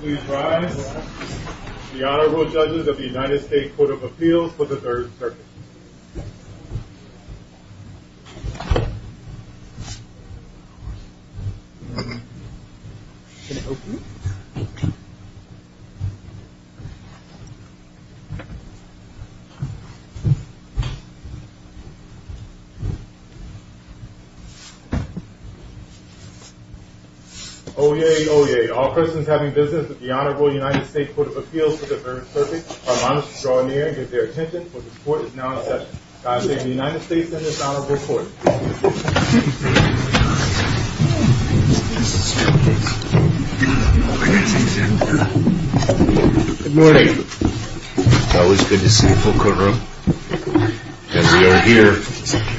Please rise. The Honorable Judges of the United States Court of Appeals for the Third Circuit. Oyez, oyez. All persons having business with the Honorable United States Court of Appeals for the Third Circuit, I'm honored to draw near and give their attention, for the Court is now in order. The Honorable Judge of the United States Court of Appeals for the Third Circuit, I'm honored to draw near and give their attention, for the Court is now in order.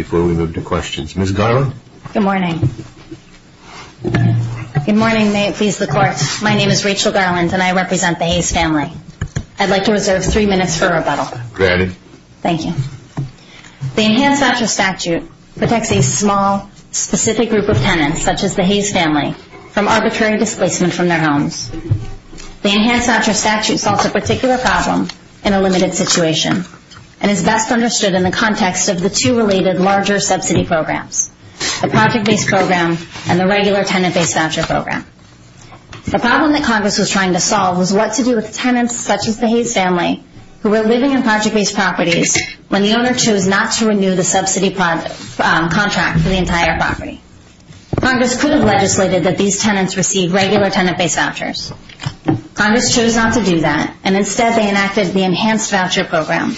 Before we move to questions, Ms. Garland? Good morning. Good morning. May it please the Court, my name is Rachel Garland and I represent the Hayes family. I'd like to reserve three minutes for rebuttal. Granted. Thank you. The Enhanced Actual Statute protects a small, specific group of tenants, such as the Hayes family, from arbitrary displacement from their homes. The Enhanced Actual Statute solves a particular problem in a limited situation and is best understood in the context of the two related larger subsidy programs, the project-based programs and the regular tenant-based voucher program. The problem that Congress is trying to solve is what to do with tenants, such as the Hayes family, who are living in project-based properties when the owner chose not to renew the subsidy contract for the entire property. Congress could have legislated that these tenants receive regular tenant-based vouchers. Congress chose not to do that, and instead they enacted the Enhanced Voucher Program,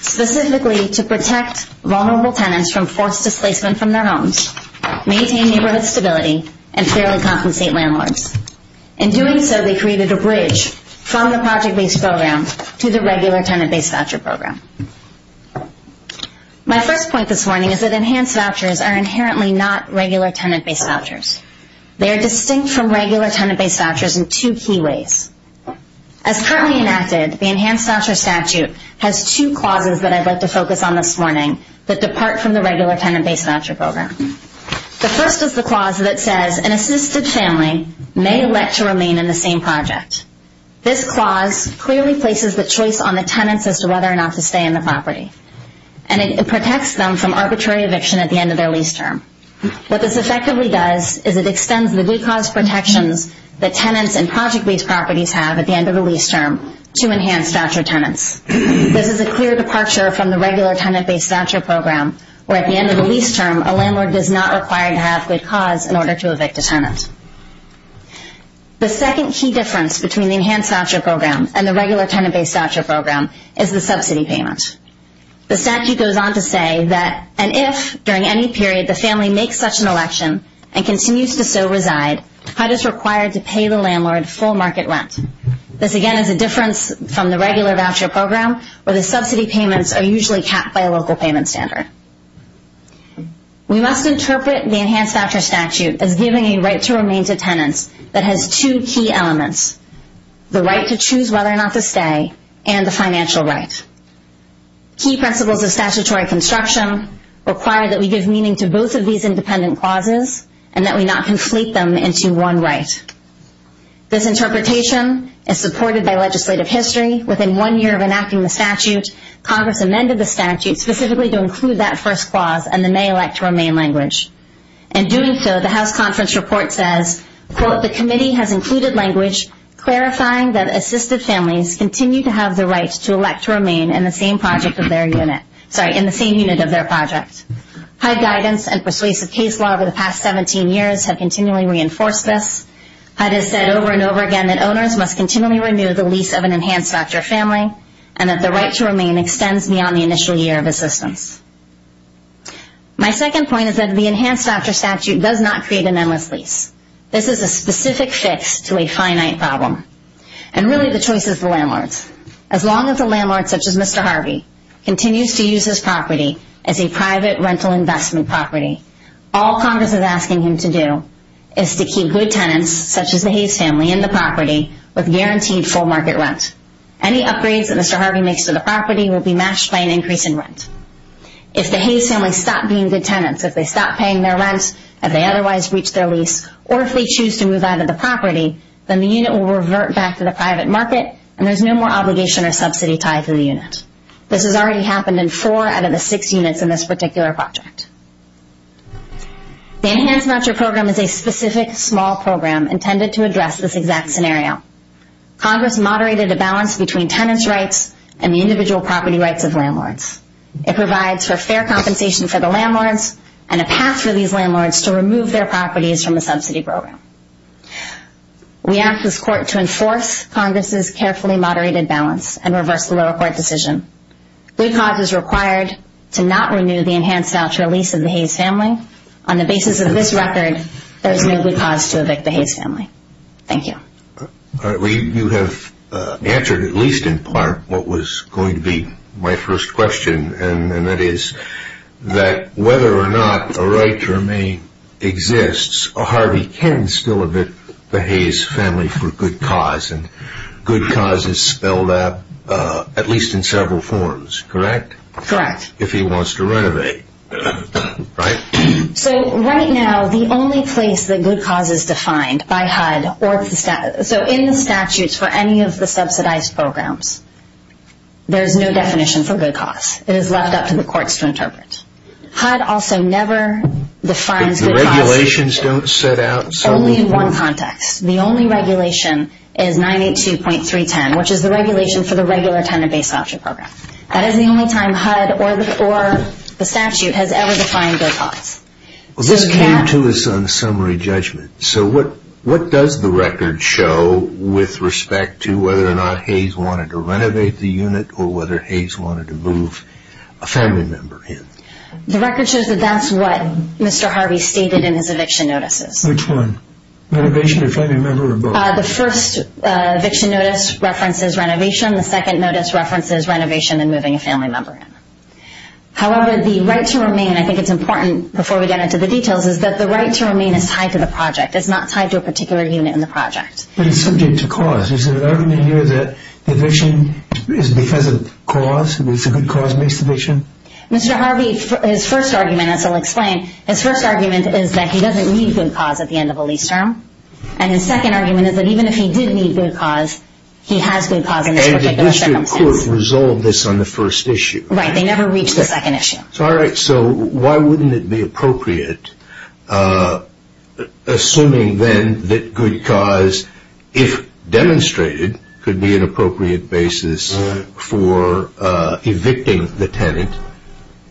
specifically to protect vulnerable tenants from forced displacement from their homes, maintain neighborhood stability, and fairly compensate landlords. In doing so, they created a bridge from the project-based program to the regular tenant-based voucher program. My first point this morning is that enhanced vouchers are inherently not regular tenant-based vouchers. They are distinct from regular tenant-based vouchers in two key ways. As currently enacted, the Enhanced Voucher Statute has two clauses that I'd like to focus on this morning that depart from the regular tenant-based voucher program. The first is the clause that says an assisted family may let to remain in the same project. This clause clearly places the choice on the tenants as to whether or not to stay in the property, and it protects them from arbitrary eviction at the end of their lease term. What this effectively does is it extends the due cause protection that tenants in project-based properties have at the end of the lease term to enhanced voucher tenants. This is a clear departure from the regular tenant-based voucher program, where at the end of the lease term, a landlord is not required to have a cause in order to evict a tenant. The second key difference between the Enhanced Voucher Program and the regular tenant-based voucher program is the subsidy payment. The statute goes on to say that, and if during any period the family makes such an election and continues to so reside, HUD is required to pay the landlord full market rent. This, again, is a difference from the regular voucher program, where the subsidy payments are usually capped by a local payment standard. We must interpret the Enhanced Voucher Statute as giving a right to remain to tenants that has two key elements, the right to choose whether or not to stay and the financial right. Key principles of statutory construction require that we give meaning to both of these independent clauses and that we not conflate them into one right. This interpretation is supported by legislative history. Within one year of enacting the statute, Congress amended the statute specifically to include that first clause in the May elect to remain language. In doing so, the House Conference Report says, quote, the committee has included language clarifying that assisted families continue to have the right to elect to remain in the same unit of their project. HUD guidance and persuasive case law over the past 17 years have continually reinforced this. HUD has said over and over again that owners must continually renew the lease of an Enhanced Voucher family and that the right to remain extends beyond the initial year of assistance. My second point is that the Enhanced Voucher Statute does not create an endless lease. This is a specific fix to a finite problem, and really the choice is the landlord's. As long as the landlord, such as Mr. Harvey, continues to use his property as a private rental investment property, all Congress is asking him to do is to keep good tenants, such as the Hayes family, in the property with guaranteed full market rent. Any upgrades that Mr. Harvey makes to the property will be matched by an increase in rent. If the Hayes family stop being good tenants, if they stop paying their rent, if they otherwise breach their lease, or if they choose to move out of the property, then the unit will revert back to the private market and there's no more obligation or subsidy tied to the unit. This has already happened in four out of the six units in this particular project. The Enhanced Voucher Program is a specific small program intended to address this exact scenario. Congress moderated a balance between tenants' rights and the individual property rights of landlords. It provides for fair compensation for the landlords and a path for these landlords to remove their properties from the subsidy program. We ask this court to enforce Congress's carefully moderated balance and reverse the lower court decision. We pause as required to not renew the Enhanced Voucher lease of the Hayes family. On the basis of this record, there is no good cause to evict the Hayes family. Thank you. You have answered, at least in part, what was going to be my first question, and that is that whether or not a right to remain exists, Harvey can still evict the Hayes family for good cause, and good cause is spelled out, at least in several forms, correct? Correct. If he wants to renovate, right? So, right now, the only place that good cause is defined by HUD or in the statutes for any of the subsidized programs, there is no definition for good cause. It is left up to the courts to interpret. HUD also never defines good cause. The regulations don't set out something? Only in one context. The only regulation is 982.310, which is the regulation for the regular tenant-based voucher program. That is the only time HUD or the statute has ever defined good cause. This came to us on a summary judgment. So, what does the record show with respect to whether or not Hayes wanted to renovate the unit or whether Hayes wanted to move a family member in? The record shows that that's what Mr. Harvey stated in his eviction notices. Which one? Renovation of a family member or both? The first eviction notice references renovation. The second notice references renovation and moving a family member in. However, the right to remain, and I think it's important before we get into the details, is that the right to remain is tied to the project. It's not tied to a particular unit in the project. But it's subject to cause. Is there an argument here that eviction is because of cause? It's a good cause-based eviction? Mr. Harvey's first argument, as I'll explain, his first argument is that he doesn't need good cause at the end of a lease term. And his second argument is that even if he did need good cause, he has good cause in this particular settlement. The district court resolved this on the first issue. Right, they never reached the second issue. All right, so why wouldn't it be appropriate, assuming then that good cause, if demonstrated, could be an appropriate basis for evicting the tenant,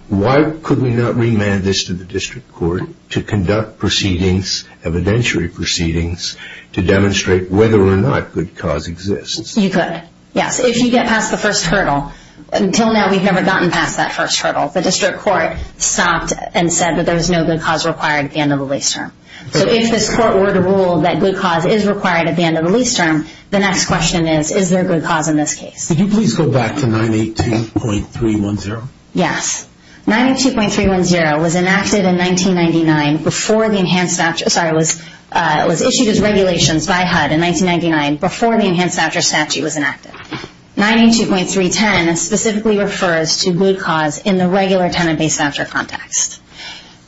why could we not remand this to the district court to conduct proceedings, evidentiary proceedings, to demonstrate whether or not good cause exists? You could, yes. If you get past the first hurdle. Until now, we've never gotten past that first hurdle. The district court stopped and said that there was no good cause required at the end of the lease term. So if this court were to rule that good cause is required at the end of the lease term, the next question is, is there good cause in this case? Could you please go back to 918.310? Yes. 918.310 was enacted in 1999 before the enhanced voucher, sorry, was issued as regulations by HUD in 1999 before the enhanced voucher statute was enacted. 918.310 specifically refers to good cause in the regular tenant-based voucher context.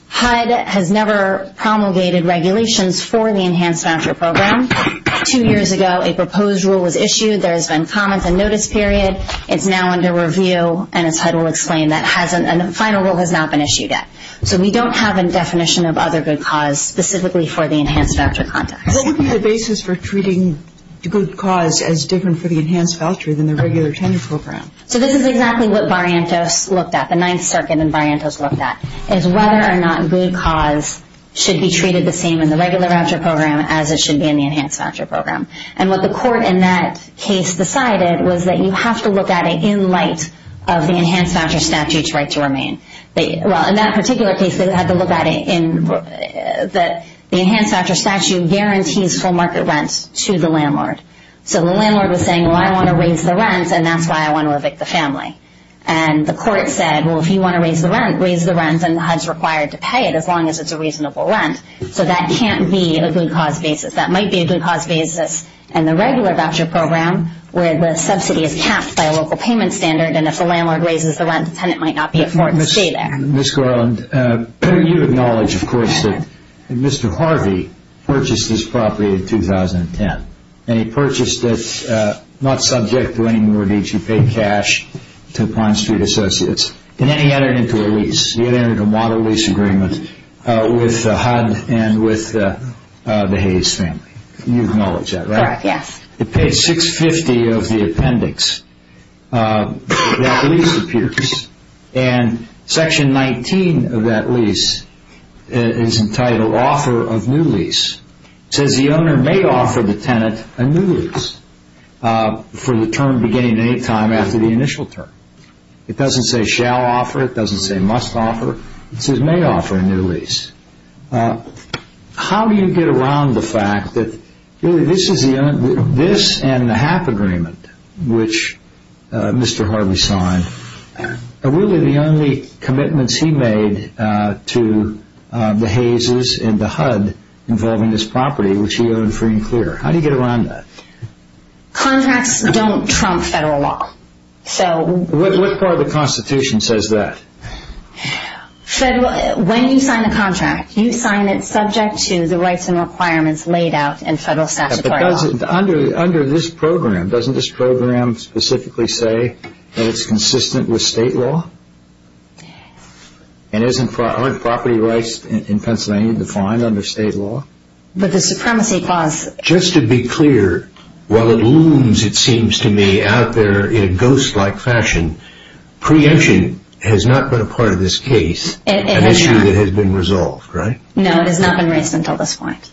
HUD has never promulgated regulations for the enhanced voucher program. Two years ago, a proposed rule was issued. There has been comment and notice period. It's now under review, and HUD will explain that final rule has not been issued yet. So we don't have a definition of other good cause specifically for the enhanced voucher context. What would be the basis for treating good cause as different for the enhanced voucher than the regular tenant program? So this is exactly what Barrientos looked at, the Ninth Circuit and Barrientos looked at, is whether or not good cause should be treated the same in the regular voucher program as it should be in the enhanced voucher program. And what the court in that case decided was that you have to look at it in light of the enhanced voucher statute's right to remain. In that particular case, they had to look at it in that the enhanced voucher statute guarantees full market rents to the landlord. So the landlord was saying, well, I want to raise the rent, and that's why I want to evict the family. And the court said, well, if you want to raise the rent, raise the rent, and HUD's required to pay it as long as it's a reasonable rent. So that can't be a good cause basis. That might be a good cause basis in the regular voucher program where the subsidy is taxed by a local payment standard, and if the landlord raises the rent, the tenant might not be afforded to stay there. Ms. Gorland, you acknowledge, of course, that Mr. Harvey purchased this property in 2010, and he purchased it not subject to any more need to pay cash to Pine Street Associates and then he entered into a lease. He entered into a model lease agreement with HUD and with the Hayes family. You acknowledge that, right? Yes. On page 650 of the appendix, that lease appears, and section 19 of that lease is entitled Author of New Lease. It says the owner may offer the tenant a new lease for the term beginning at any time after the initial term. It doesn't say shall offer. It doesn't say must offer. It says may offer a new lease. How do you get around the fact that this and the half agreement, which Mr. Harvey signed, are really the only commitments he made to the Hayes' and to HUD involving this property, which he owned free and clear. How do you get around that? Contracts don't trump federal law. What part of the Constitution says that? When you sign a contract, you sign it subject to the rights and requirements laid out in federal statutory law. Under this program, doesn't this program specifically say that it's consistent with state law and isn't property rights in Pennsylvania defined under state law? Just to be clear, while it looms, it seems to me, out there in a ghost-like fashion, preemption has not been a part of this case, an issue that has been resolved, right? No, it has not been raised until this point.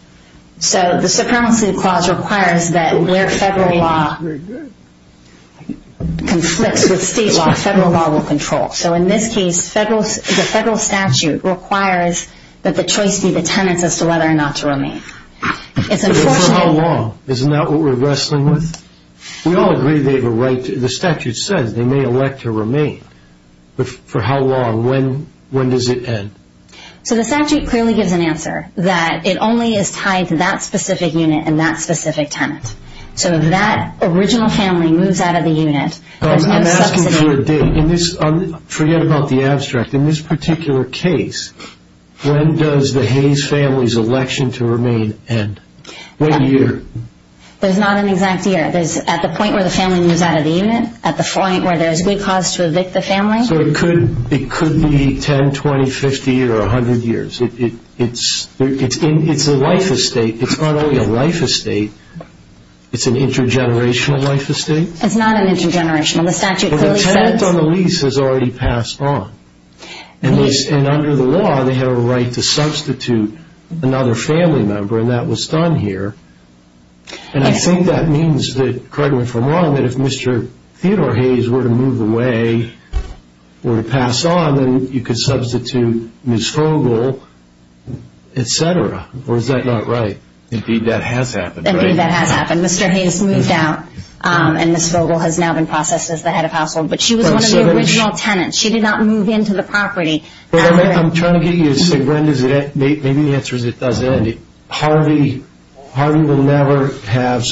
So the supremacy clause requires that where federal law conflicts with state law, federal law will control. So in this case, the federal statute requires that the choice be the tenants as to whether or not to remain. How long? Isn't that what we're wrestling with? We all agree the statute said they may elect to remain, but for how long? When does it end? So the statute clearly gives an answer that it only is tied to that specific unit and that specific tenant. So if that original family moves out of the unit, I'm asking you a bit. Forget about the abstract. In this particular case, when does the Hayes family's election to remain end? What year? There's not an exact year. There's at the point where the family moves out of the unit, at the point where there's good cause to evict the family. So it could be 10, 20, 50, or 100 years. It's a life estate. It's not only a life estate. It's an intergenerational life estate? It's not an intergenerational. The statute clearly says... Well, the tenant on the lease has already passed on. And under the law, they have a right to substitute another family member, and that was done here. And I think that means that, credit where from wrong, that if Mr. Theodore Hayes were to move away, were to pass on, then you could substitute Ms. Froegle, et cetera. Or is that not right? Indeed, that hath happened. Indeed, that hath happened. Mr. Hayes moved out, and Ms. Froegle has now been processed as the head of household. But she was one of the original tenants. She did not move into the property. What I'm trying to get you to say, Brenda, is that maybe the answer is it doesn't end. Harvey will never have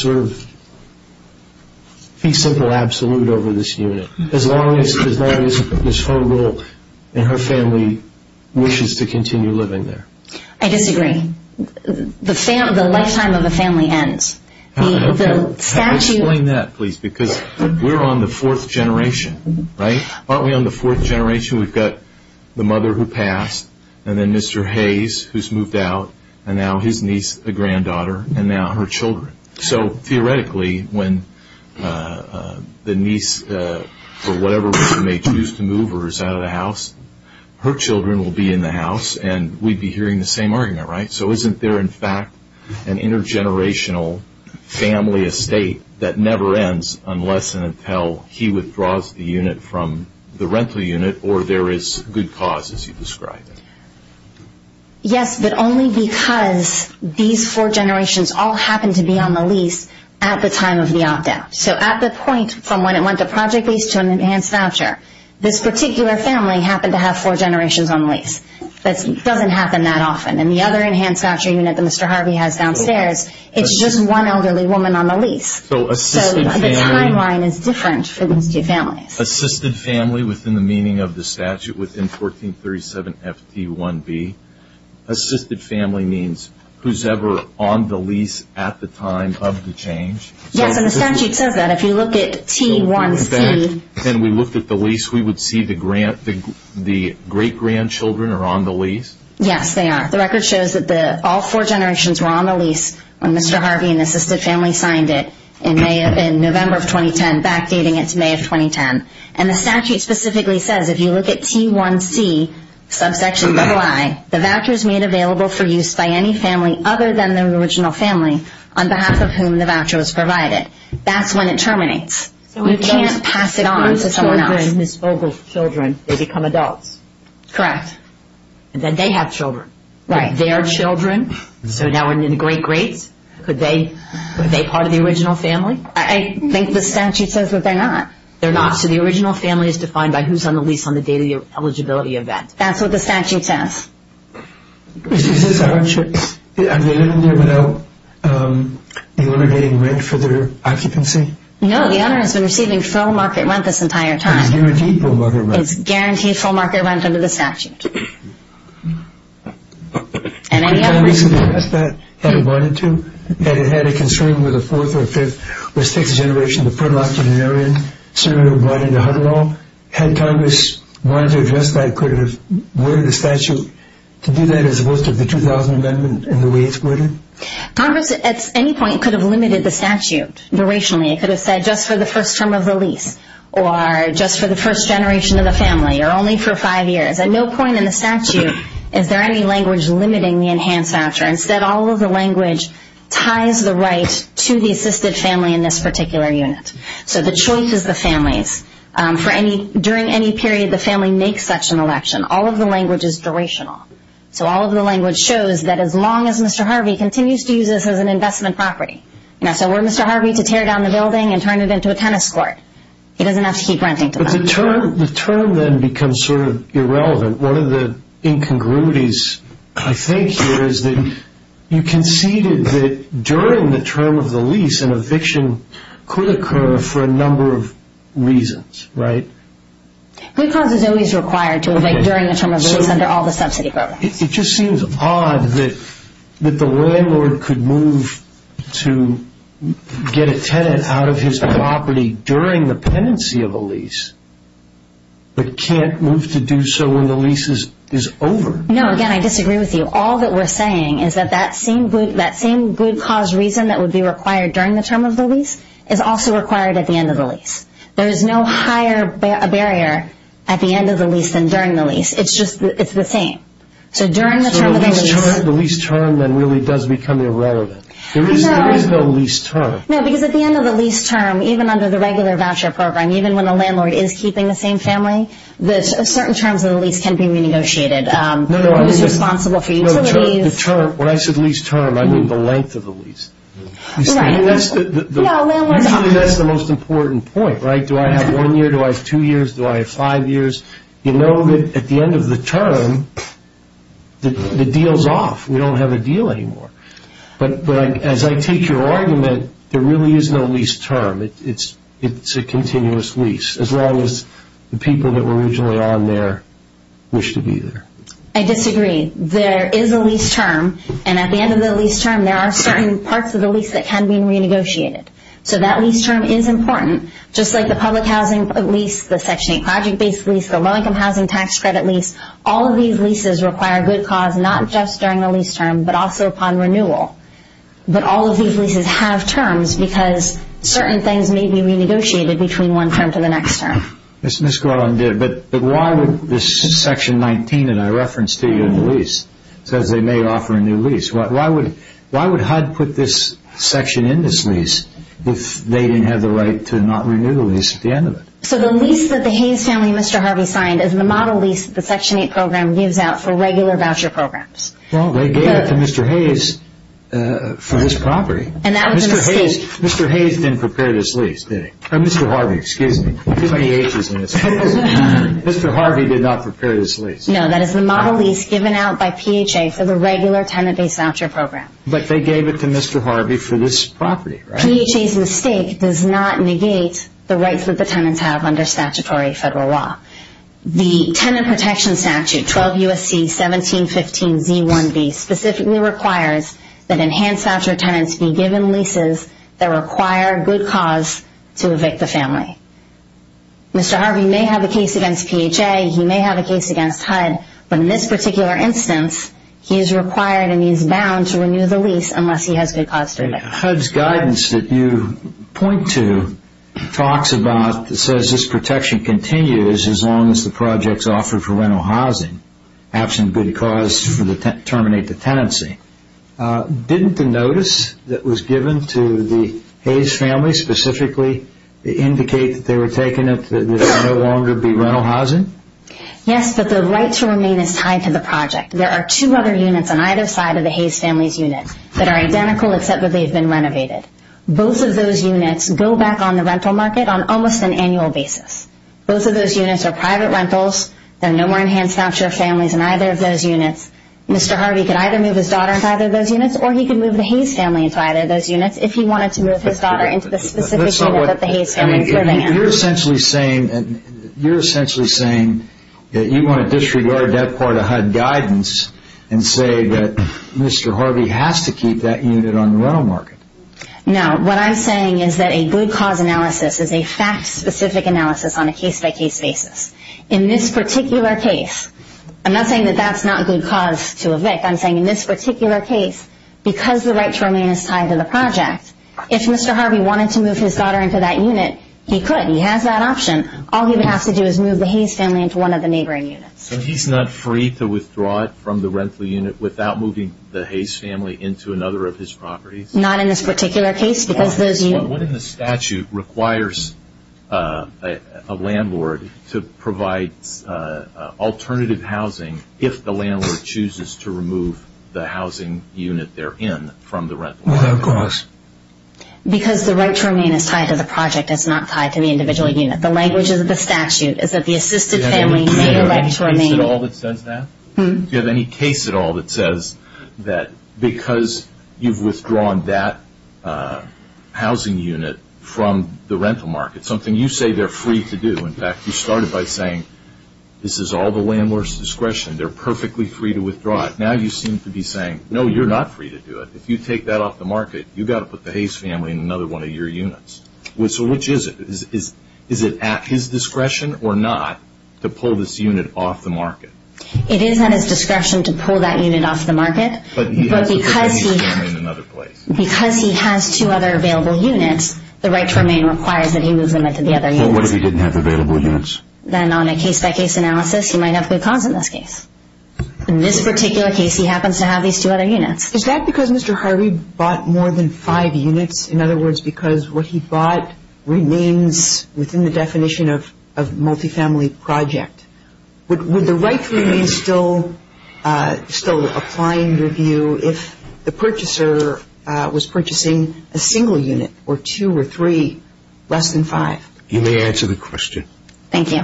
peace of the absolute over this unit, as long as Ms. Froegle and her family wishes to continue living there. I disagree. The lifetime of the family ends. Explain that, please, because we're on the fourth generation, right? Aren't we on the fourth generation? We've got the mother who passed, and then Mr. Hayes, who's moved out, and now his niece, the granddaughter, and now her children. So, theoretically, when the niece, or whatever it is, may choose to move or is out of the house, her children will be in the house, and we'd be hearing the same argument, right? So, isn't there, in fact, an intergenerational family estate that never ends, unless and until he withdraws the unit from the rental unit, or there is good cause, as you describe it? Yes, but only because these four generations all happen to be on the lease at the time of the op-down. So, at the point from when it went to project lease to an enhanced voucher, this particular family happened to have four generations on the lease. But it doesn't happen that often. In the other enhanced voucher unit that Mr. Harvey has downstairs, it's just one elderly woman on the lease. So, the timeline is different for each family. Assisted family within the meaning of the statute within 1437 FT1B. Assisted family means who's ever on the lease at the time of the change. Yes, and the statute says that. If you looked at T1C. And we looked at the lease, we would see the great-grandchildren are on the lease? Yes, they are. The record shows that all four generations were on the lease when Mr. Harvey and the assisted family signed it in November of 2010, backdating it to May of 2010. And the statute specifically says, if you look at T1C, subsection 2I, the voucher is made available for use by any family other than the original family, on behalf of whom the voucher was provided. That's when it terminates. So, we can't pass it on to someone else. The children, Ms. Vogel's children, they become adults. Correct. And then they have children. Right. Their children. So, now we're in the great-greats. Could they be part of the original family? I think the statute says that they're not. They're not? So, the original family is defined by who's on the lease on the day of the eligibility event. That's what the statute says. Is this a voucher? I mean, isn't there now a limited rate for their occupancy? No. The owner has been receiving full market rent this entire time. Guaranteed full market rent. Guaranteed full market rent under the statute. And any other reason to address that, had it wanted to? Had it had a concern with a fourth or fifth or sixth generation of the pro-luxemarian, similar to Rodney DeHunt at all? Had Congress wanted to address that? Could it have worded the statute to do that as opposed to the 2000 Amendment and the way it's worded? Congress, at any point, could have limited the statute durationally. It could have said just for the first term of release or just for the first generation of the family or only for five years. At no point in the statute is there any language limiting the enhanced voucher. Instead, all of the language ties the right to the assisted family in this particular unit. So, the choice is the family's. During any period, the family makes such an election. All of the language is durational. So, all of the language shows that as long as Mr. Harvey continues to use this as an investment property. Now, so, were Mr. Harvey to tear down the building and turn it into a tennis court? He doesn't have to keep renting. But the term then becomes sort of irrelevant. One of the incongruities, I think, here is that you conceded that during the term of the lease, an eviction could occur for a number of reasons, right? Good cause is always required to evict during the term of the lease under all the subsidy programs. It just seems odd that the landlord could move to get a tenant out of his property during the pendency of a lease but can't move to do so when the lease is over. No, again, I disagree with you. All that we're saying is that that same good cause reason that would be required during the term of the lease is also required at the end of the lease. There is no higher barrier at the end of the lease than during the lease. It's just, it's the same. So, during the term of the lease. So, the lease term then really does become irrelevant. There is no lease term. No, because at the end of the lease term, even under the regular voucher program, even when the landlord is keeping the same family, there's certain terms of the lease can be negotiated. No, no. It's responsible for utilities. No, the term, when I said lease term, I mean the length of the lease. That's the most important point, right? Do I have one year? Do I have two years? Do I have five years? You know that at the end of the term, the deal's off. We don't have a deal anymore. But as I take your argument, there really is no lease term. It's a continuous lease as long as the people that were originally on there wish to be there. I disagree. There is a lease term, and at the end of the lease term, there are certain parts of the lease that can be renegotiated. So, that lease term is important. Just like the public housing lease, the Section 8 project-based lease, the low-income housing tax credit lease, all of these leases require good cause not just during the lease term but also upon renewal. But all of these leases have terms because certain things may be renegotiated between one term to the next term. But why would this Section 19 that I referenced to you in the lease, because they may offer a new lease, why would HUD put this section in this lease if they didn't have the right to not renew the lease at the end of it? So, the lease that the Hayes family and Mr. Harvey signed is the model lease that the Section 8 program gives out for regular voucher programs. Well, they gave that to Mr. Hayes for this property. And that was in his case. Mr. Hayes didn't prepare this lease, did he? Mr. Harvey, excuse me. Too many aces in this. Mr. Harvey did not prepare this lease. No, that is the model lease given out by PHA for the regular tenant-based voucher program. But they gave it to Mr. Harvey for this property, right? PHA's mistake does not negate the rights that the tenants have under statutory federal law. The Tenant Protection Statute, 12 U.S.C. 1715b1b, specifically requires that enhanced voucher tenants be given leases that require good cause to evict a family. Mr. Harvey may have a case against PHA. He may have a case against HUD. But in this particular instance, he is required and he is bound to renew the lease unless he has good cause to evict. HUD's guidance that you point to talks about, says this protection continues as long as the project is offered for rental housing, absent good cause to terminate the tenancy. Didn't the notice that was given to the Hayes family specifically indicate that they were taking it, that it would no longer be rental housing? Yes, but the right to remain is tied to the project. There are two other units on either side of the Hayes family's unit that are identical except that they have been renovated. Both of those units go back on the rental market on almost an annual basis. Both of those units are private rentals. There are no more enhanced voucher families in either of those units. Mr. Harvey can either move his daughter into either of those units or he can move the Hayes family into either of those units if he wanted to move his daughter into the specific unit that the Hayes family remains. You're essentially saying that you want to disregard that part of HUD guidance and say that Mr. Harvey has to keep that unit on the rental market. No, what I'm saying is that a good cause analysis is a fact-specific analysis on a case-by-case basis. In this particular case, I'm not saying that that's not a good cause to evict. I'm saying in this particular case, because the right to remain is tied to the project, if Mr. Harvey wanted to move his daughter into that unit, he could. He has that option. All he would have to do is move the Hayes family into one of the neighboring units. And he's not free to withdraw it from the rental unit without moving the Hayes family into another of his properties? Not in this particular case. What in the statute requires a landlord to provide alternative housing if the landlord chooses to remove the housing unit they're in from the rental market? Because the right to remain is tied to the project. It's not tied to the individual unit. The language of the statute is that the assisted family need a right to remain. Do you have any case at all that says that? Because you've withdrawn that housing unit from the rental market, something you say they're free to do. In fact, you started by saying this is all the landlord's discretion. They're perfectly free to withdraw it. Now you seem to be saying, no, you're not free to do it. If you take that off the market, you've got to put the Hayes family in another one of your units. So which is it? Is it at his discretion or not to pull this unit off the market? It is at his discretion to pull that unit off the market, but because he has two other available units, the right to remain requires that he move them into the other units. What if he didn't have available units? Then on a case-by-case analysis, you might have good cause in that case. In this particular case, he happens to have these two other units. Is that because Mr. Harvey bought more than five units? In other words, because what he bought remains within the definition of multifamily project. Would the right to remain still apply in your view if the purchaser was purchasing a single unit or two or three less than five? You may answer the question. Thank you.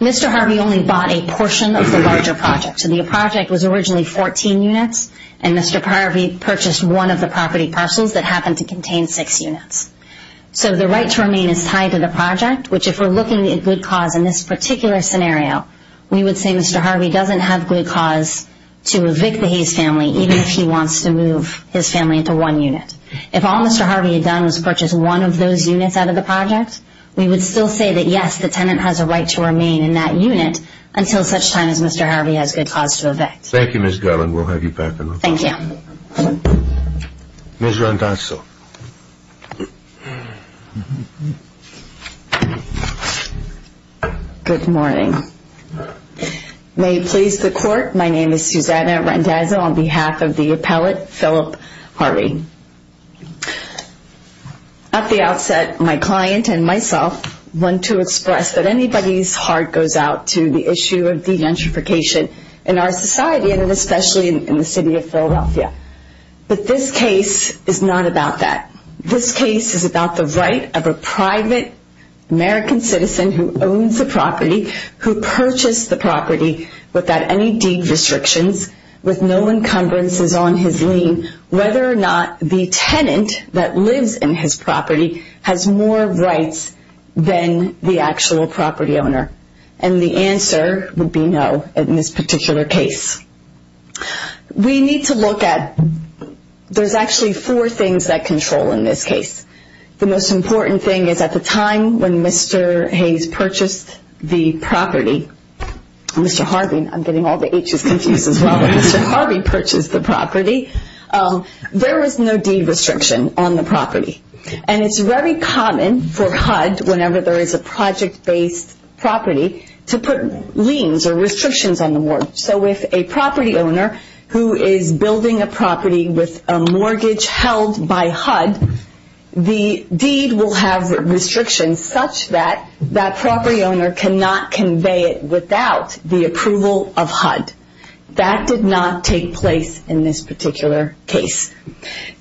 Mr. Harvey only bought a portion of the larger project. The project was originally 14 units, and Mr. Harvey purchased one of the property parcels that happened to contain six units. So the right to remain is tied to the project, which if we're looking at good cause in this particular scenario, we would say Mr. Harvey doesn't have good cause to evict the Hayes family, even if he wants to move his family into one unit. If all Mr. Harvey had done was purchase one of those units out of the project, we would still say that, yes, the tenant has a right to remain in that unit until such time as Mr. Harvey has good cause to evict. Thank you, Ms. Garland. We'll have you back in a moment. Thank you. Thank you. Ms. Randazzo. Good morning. May it please the Court, my name is Susanna Randazzo on behalf of the appellate Philip Harvey. At the outset, my client and myself want to express that anybody's heart goes out to the issue of But this case is not about that. This case is about the right of a private American citizen who owns a property, who purchased the property without any deed restrictions, with no encumbrances on his lien, whether or not the tenant that lives in his property has more rights than the actual property owner. And the answer would be no in this particular case. We need to look at there's actually four things that control in this case. The most important thing is at the time when Mr. Hayes purchased the property, Mr. Harvey, I'm getting all the H's confused as well, when Mr. Harvey purchased the property, there was no deed restriction on the property. And it's very common for HUD, whenever there is a project-based property, to put liens or restrictions on the mortgage. So if a property owner who is building a property with a mortgage held by HUD, the deed will have restrictions such that that property owner cannot convey it without the approval of HUD. That did not take place in this particular case.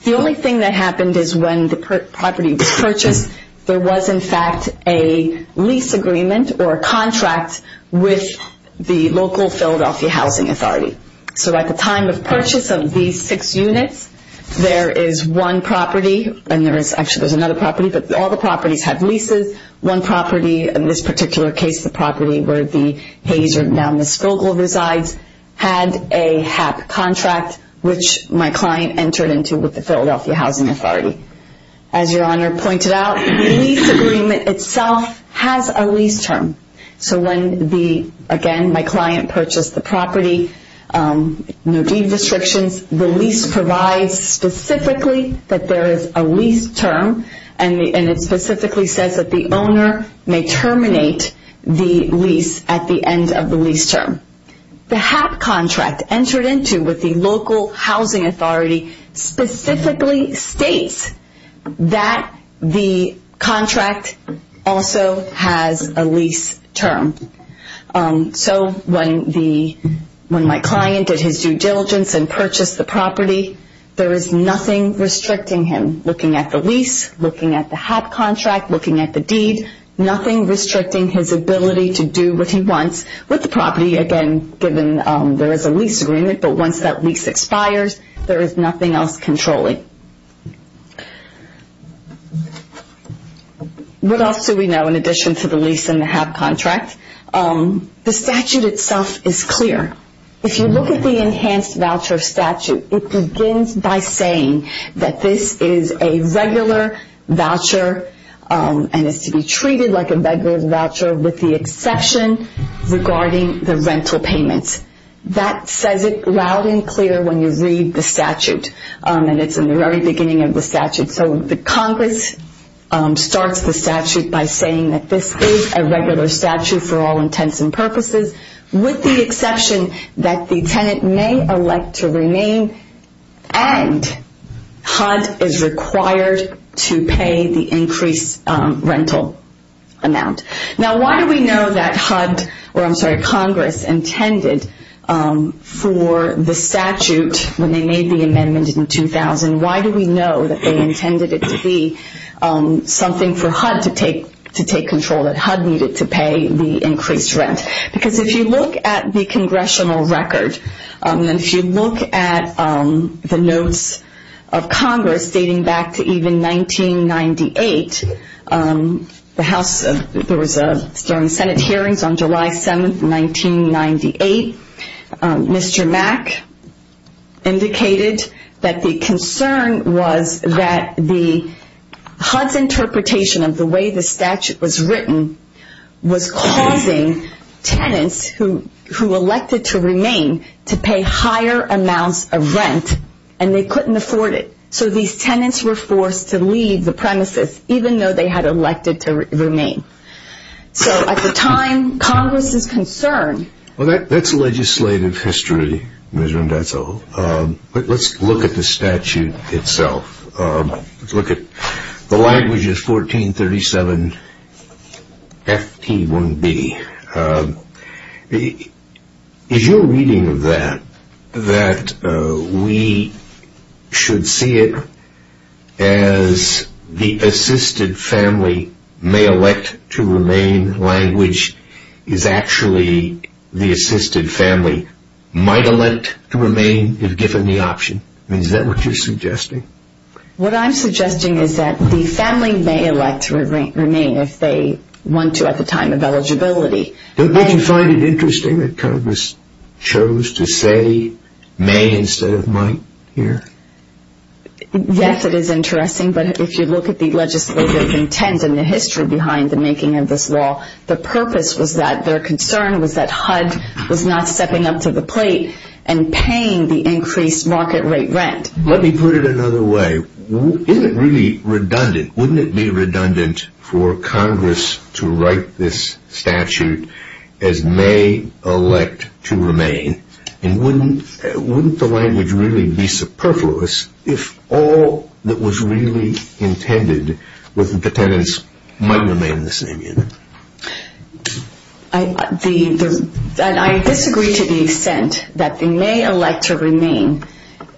The only thing that happened is when the property was purchased, there was, in fact, a lease agreement or a contract with the local Philadelphia Housing Authority. So at the time of purchase of these six units, there is one property, and there's actually another property, but all the properties have leases. One property, in this particular case, the property where the Hayes or Mademoiselle resides, had a HAP contract which my client entered into with the Philadelphia Housing Authority. As Your Honor pointed out, the lease agreement itself has a lease term. So when, again, my client purchased the property, no deed restrictions, the lease provides specifically that there is a lease term, and it specifically says that the owner may terminate the lease at the end of the lease term. The HAP contract entered into with the local housing authority specifically states that the contract also has a lease term. So when my client did his due diligence and purchased the property, there is nothing restricting him looking at the lease, looking at the HAP contract, looking at the deed, nothing restricting his ability to do what he wants with the property, again, given there is a lease agreement, but once that lease expires, there is nothing else controlling. What else do we know in addition to the lease and the HAP contract? The statute itself is clear. If you look at the enhanced voucher statute, it begins by saying that this is a regular voucher and is to be treated like a regular voucher with the exception regarding the rental payment. That says it loud and clear when you read the statute, and it's in the very beginning of the statute. So the Congress starts the statute by saying that this is a regular statute for all intents and purposes, with the exception that the tenant may elect to remain and HUD is required to pay the increased rental amount. Now, why do we know that HUD or, I'm sorry, Congress intended for the statute when they made the amendment in 2000, why do we know that they intended it to be something for HUD to take control, that HUD needed to pay the increased rent? Because if you look at the Congressional record, and if you look at the notes of Congress dating back to even 1998, there was a Senate hearing on July 7th, 1998. Mr. Mack indicated that the concern was that the HUD's interpretation of the way the statute was written was causing tenants who elected to remain to pay higher amounts of rent, and they couldn't afford it. So these tenants were forced to leave the premises, even though they had elected to remain. So at the time, Congress was concerned. Well, that's legislative history, Ms. Vendetto. Let's look at the statute itself. Let's look at the language, it's 1437-FT-1B. Is your reading of that that we should see it as the assisted family may elect to remain, language is actually the assisted family might elect to remain if given the option? What I'm suggesting is that the family may elect to remain if they want to at the time of eligibility. Don't you find it interesting that Congress chose to say may instead of might here? Yes, it is interesting, but if you look at the legislative intent and the history behind the making of this law, the purpose was that their concern was that HUD was not stepping up to the plate and paying the increased market rate rent. Let me put it another way. Isn't it really redundant? Wouldn't it be redundant for Congress to write this statute as may elect to remain? And wouldn't the language really be superfluous if all that was really intended with the tenants might remain the same? I disagree to the extent that the may elect to remain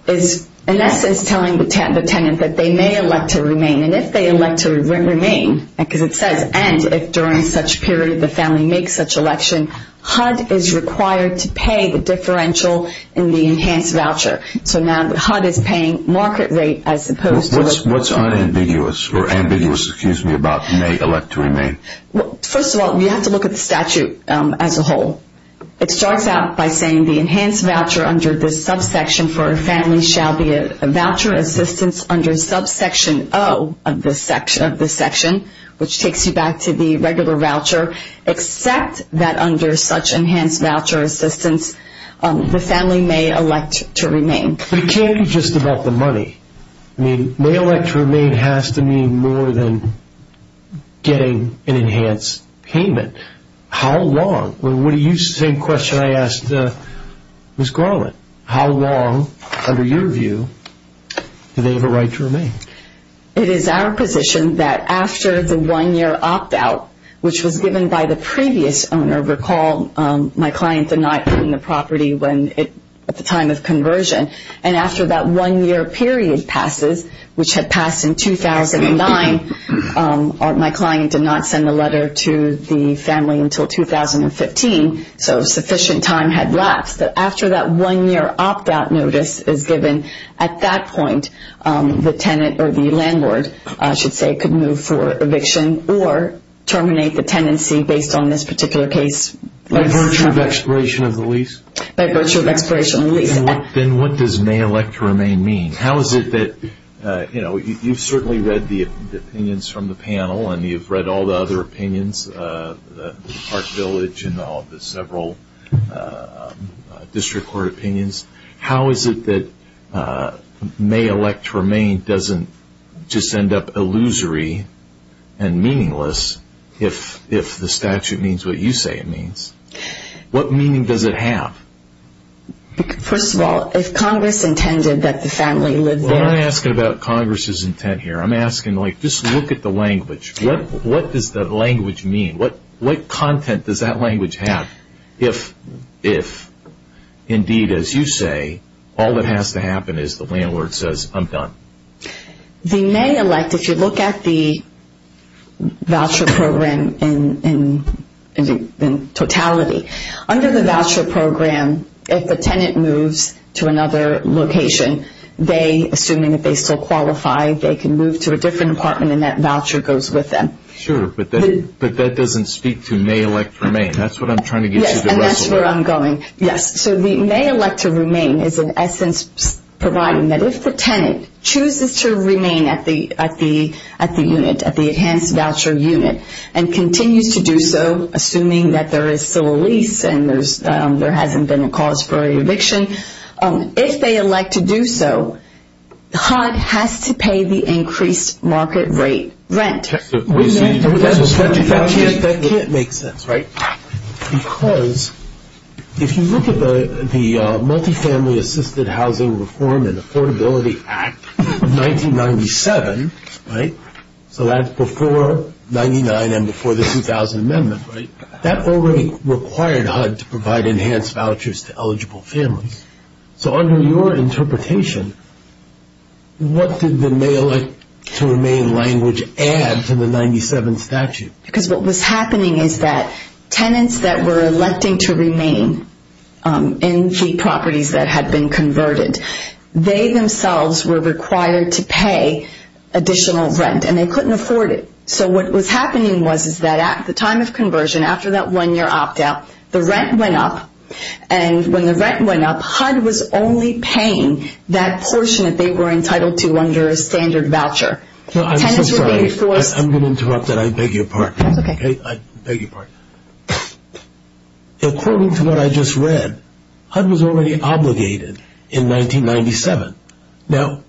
is in essence telling the tenant that they may elect to remain. And if they elect to remain, because it says and if during such period the family makes such election, HUD is required to pay the differential in the enhanced voucher. So now HUD is paying market rate as opposed to- What's ambiguous about may elect to remain? First of all, you have to look at the statute as a whole. It starts out by saying the enhanced voucher under this subsection for a family shall be a voucher assistance under subsection O of this section, which takes you back to the regular voucher, except that under such enhanced voucher assistance the family may elect to remain. It can't be just about the money. May elect to remain has to mean more than getting an enhanced payment. How long? Well, you used the same question I asked Ms. Garland. How long, under your view, do they have a right to remain? It is our position that after the one-year opt-out, which was given by the previous owner. Recall my client did not own the property at the time of conversion. And after that one-year period passes, which had passed in 2009, my client did not send a letter to the family until 2015, so sufficient time had lapsed. But after that one-year opt-out notice is given, at that point the tenant or the landlord, I should say, could move for eviction or terminate the tenancy based on this particular case. By virtue of expiration of the lease? By virtue of expiration of the lease. Then what does may elect to remain mean? How is it that, you know, you've certainly read the opinions from the panel, and you've read all the other opinions, Park Village and all the several district court opinions. How is it that may elect to remain doesn't just end up illusory and meaningless if the statute means what you say it means? What meaning does it have? First of all, if Congress intended that the family live there. Well, I'm not asking about Congress's intent here. I'm asking, like, just look at the language. What does the language mean? What content does that language have if, indeed, as you say, all that has to happen is the landlord says, I'm done? The may elect, if you look at the voucher program in totality, under the voucher program, if the tenant moves to another location, they, assuming that they still qualify, they can move to a different apartment and that voucher goes with them. Sure, but that doesn't speak to may elect to remain. That's what I'm trying to get to. Yes, and that's where I'm going. Yes, so the may elect to remain is, in essence, providing that if the tenant chooses to remain at the unit, at the enhanced voucher unit, and continues to do so, assuming that there is still a lease and there hasn't been a cause for eviction, if they elect to do so, the HUD has to pay the increased market rate rent. That can't make sense, right? Because if you look at the Multifamily Assisted Housing Reform and Affordability Act of 1997, right, so that's before 99 and before the 2000 amendment, right, that already required HUD to provide enhanced vouchers to eligible families. So under your interpretation, what does the may elect to remain language add to the 97 statute? Because what was happening is that tenants that were electing to remain in cheap properties that had been converted, they themselves were required to pay additional rent and they couldn't afford it. So what was happening was that at the time of conversion, after that one-year opt-out, the rent went up, and when the rent went up, HUD was only paying that portion that they were entitled to under a standard voucher. I'm sorry. I'm going to interrupt that. I beg your pardon. Okay. I beg your pardon. According to what I just read, HUD was already obligated in 1997. Now,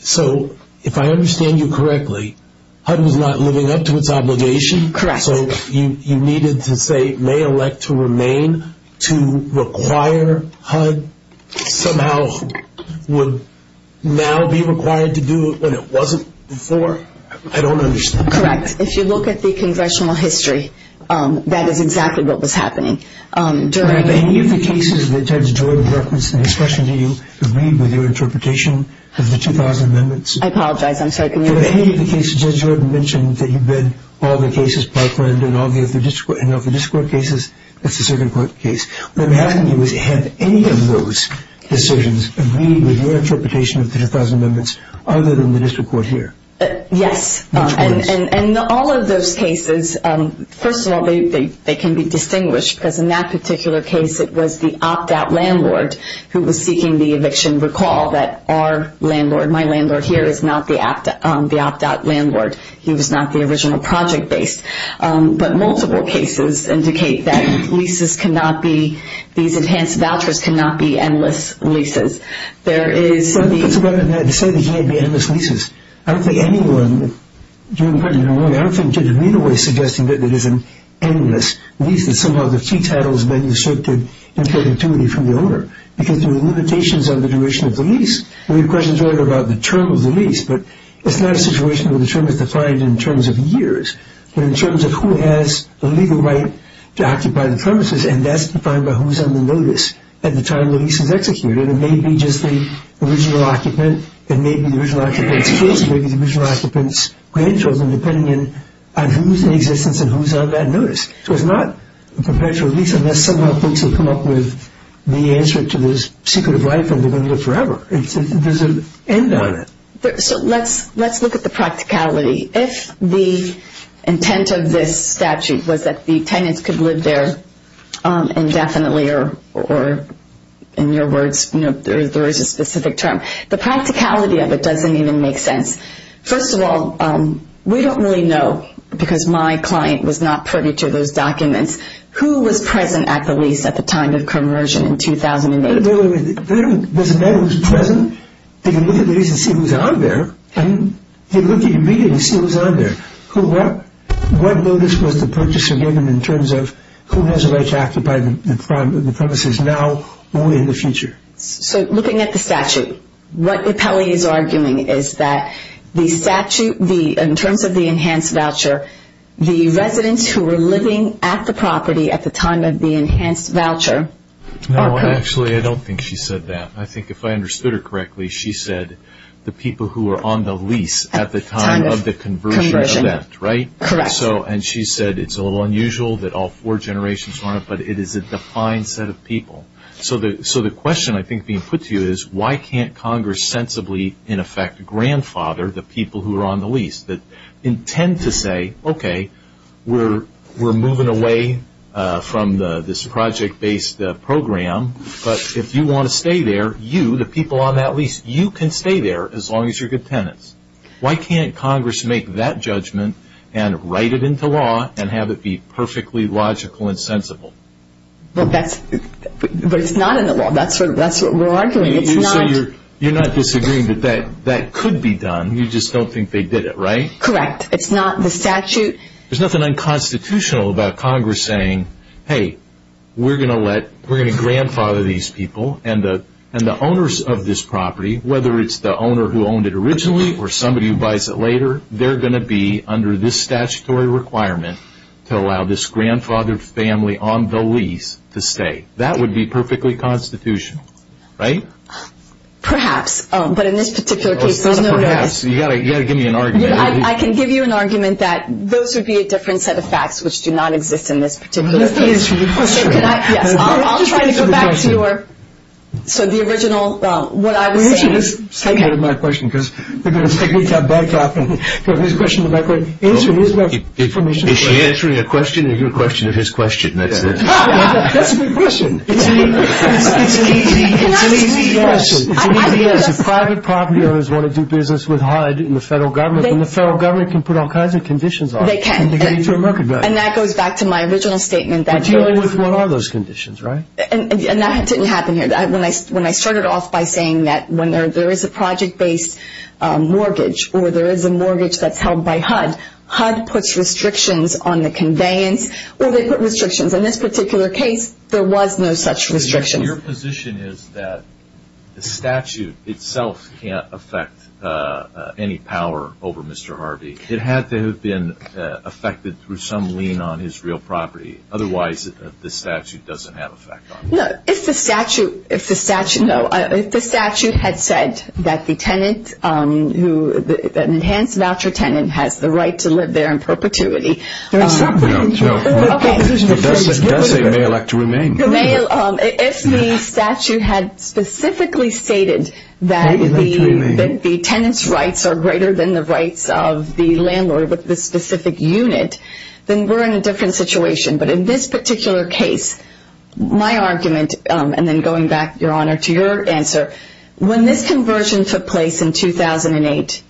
so if I understand you correctly, HUD was not moving up to its obligation? Correct. So you needed to say may elect to remain to require HUD somehow would now be required to do what it wasn't before? I don't understand. Correct. If you look at the congressional history, that is exactly what was happening. In any of the cases that Judge Jordan referenced in this question, do you agree with your interpretation of the 2000 amendments? I apologize. In any of the cases Judge Jordan mentioned that you've read all the cases, and of the district court cases, it's a certain court case. What happened was, had any of those decisions agreed with your interpretation of the 2000 amendments, other than the district court here? Yes. And all of those cases, first of all, they can be distinguished, because in that particular case it was the opt-out landlord who was seeking the eviction. You can recall that our landlord, my landlord here, is not the opt-out landlord. He was not the original project base. But multiple cases indicate that leases cannot be, these enhanced vouchers cannot be endless leases. There is the- Well, I'm not saying they can't be endless leases. I don't think anyone, Jordan, I don't think Judge Reno is suggesting that there is an endless lease. That somehow the key title is then restricted in sensitivity from the owner. Because there are limitations on the duration of the lease. And your question is really about the term of the lease, but it's not a situation where the term is defined in terms of years, but in terms of who has the legal right to occupy the premises, and that's defined by who's on the notice at the time the lease is executed. It may be just the original occupant. It may be the original occupant's kids. It may be the original occupant's grandchildren, depending on who's in existence and who's on that notice. So it's not a perpetual lease unless somehow folks have come up with the answer to this secret of life and we're going to live forever. It doesn't end on it. So let's look at the practicality. If the intent of this statute was that the tenants could live there indefinitely or, in your words, there is a specific term. The practicality of it doesn't even make sense. First of all, we don't really know, because my client was not privy to those documents, who was present at the lease at the time of conversion in 2008. There was a man who was present. He could look at the lease and see who was on there, and he looked at your meeting and see who was on there. What notice was the purchaser given in terms of who has the right to occupy the premises now or in the future? So looking at the statute, what the appellee is arguing is that in terms of the enhanced voucher, the residents who were living at the property at the time of the enhanced voucher. No, actually, I don't think she said that. I think if I understood her correctly, she said the people who were on the lease at the time of the conversion. Right? Correct. And she said it's a little unusual that all four generations are on it, but it is a defined set of people. So the question I think being put to you is why can't Congress sensibly, in effect, grandfather the people who are on the lease, that intend to say, okay, we're moving away from this project-based program, but if you want to stay there, you, the people on that lease, you can stay there as long as you're good tenants. Why can't Congress make that judgment and write it into law and have it be perfectly logical and sensible? But it's not in the law. That's what we're arguing. So you're not disagreeing that that could be done. You just don't think they did it, right? Correct. It's not in the statute. There's nothing unconstitutional about Congress saying, hey, we're going to grandfather these people, and the owners of this property, whether it's the owner who owned it originally or somebody who buys it later, they're going to be under this statutory requirement to allow this grandfather's family on the lease to stay. That would be perfectly constitutional, right? Perhaps, but in this particular case, no. Perhaps. You've got to give me an argument. I can give you an argument that those would be a different set of facts which do not exist in this particular case. I'll try to go back to your, so the original, well, what I was saying. Let's take one of my questions, because we're going to break off and get his question in that way. Answer his question. Is she answering a question or your question of his question? That's a good question. If private property owners want to do business with HUD and the federal government, then the federal government can put all kinds of conditions on it. They can. And that goes back to my original statement. What are those conditions, right? And that didn't happen here. When I started off by saying that when there is a project-based mortgage or there is a mortgage that's held by HUD, HUD puts restrictions on the conveyance. Well, they put restrictions. In this particular case, there was no such restriction. Your position is that the statute itself can't affect any power over Mr. Harvey. It had to have been affected through some lien on his real property. Otherwise, the statute doesn't have an effect on him. No. If the statute had said that the enhanced voucher tenant has the right to live there in perpetuity. No. It does say may elect to remain. If the statute had specifically stated that the tenant's rights are greater than the rights of the landlord with the specific unit, then we're in a different situation. But in this particular case, my argument, and then going back, Your Honor, to your answer, when this conversion took place in 2008,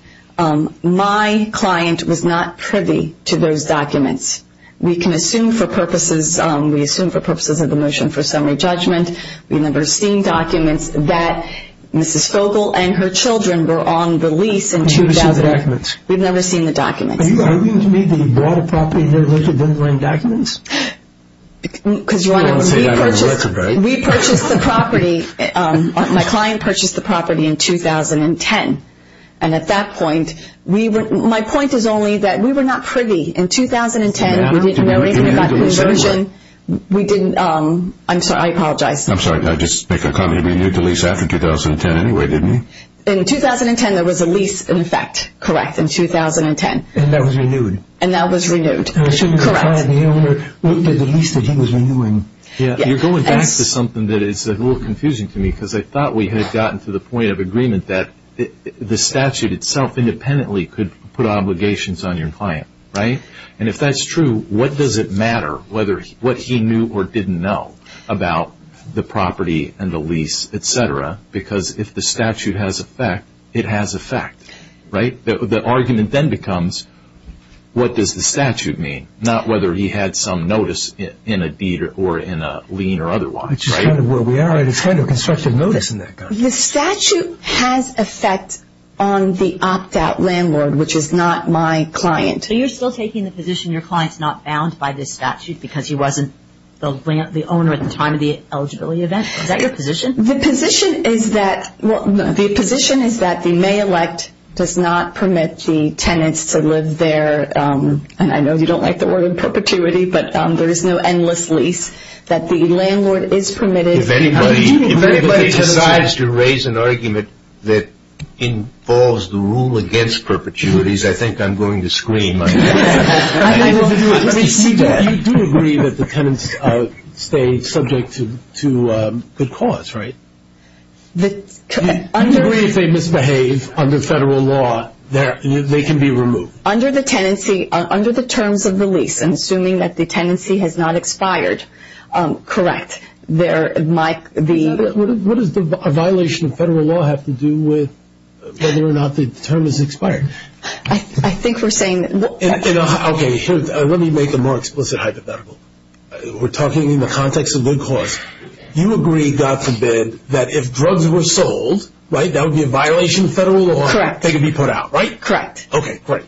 my client was not privy to those documents. We can assume for purposes of the motion for summary judgment, we've never seen documents that Mrs. Fogle and her children were on the lease in 2008. We've never seen the documents. Are you arguing to me that you bought a property in New Jersey and didn't bring documents? We purchased the property. My client purchased the property in 2010. And at that point, my point was only that we were not privy. In 2010, we didn't know anything about the condition. I'm sorry. I apologize. I'm sorry. I just make a comment. You knew the lease happened in 2010 anyway, didn't you? In 2010, there was a lease, in fact, correct, in 2010. And that was renewed. And that was renewed. Correct. The lease that he was renewing. You're going back to something that is a little confusing to me, because I thought we had gotten to the point of agreement that the statute itself independently could put obligations on your client, right? And if that's true, what does it matter whether what he knew or didn't know about the property and the lease, et cetera, because if the statute has effect, it has effect, right? The argument then becomes what does the statute mean, not whether he had some notice in a deed or in a lien or otherwise, right? Well, we have a constructive notice in that case. The statute has effect on the opt-out landlord, which is not my client. So you're still taking the position your client's not bound by the statute because he wasn't the owner at the time of the eligibility event? Is that your position? The position is that the may elect does not permit the tenants to live there. I know you don't like the word perpetuity, but there is no endless lease. That the landlord is permitted. If anybody decides to raise an argument that involves the rule against perpetuities, I think I'm going to scream. Let me see that. You do agree that the tenants stay subject to good cause, right? If they misbehave under federal law, they can be removed. Under the terms of the lease, I'm assuming that the tenancy has not expired. Correct. What does the violation of federal law have to do with whether or not the term is expired? I think we're saying... Okay, let me make a more explicit hypothetical. We're talking in the context of good cause. You agree, God forbid, that if drugs were sold, right, that would be a violation of federal law. Correct. They could be put out, right? Correct. Okay, great.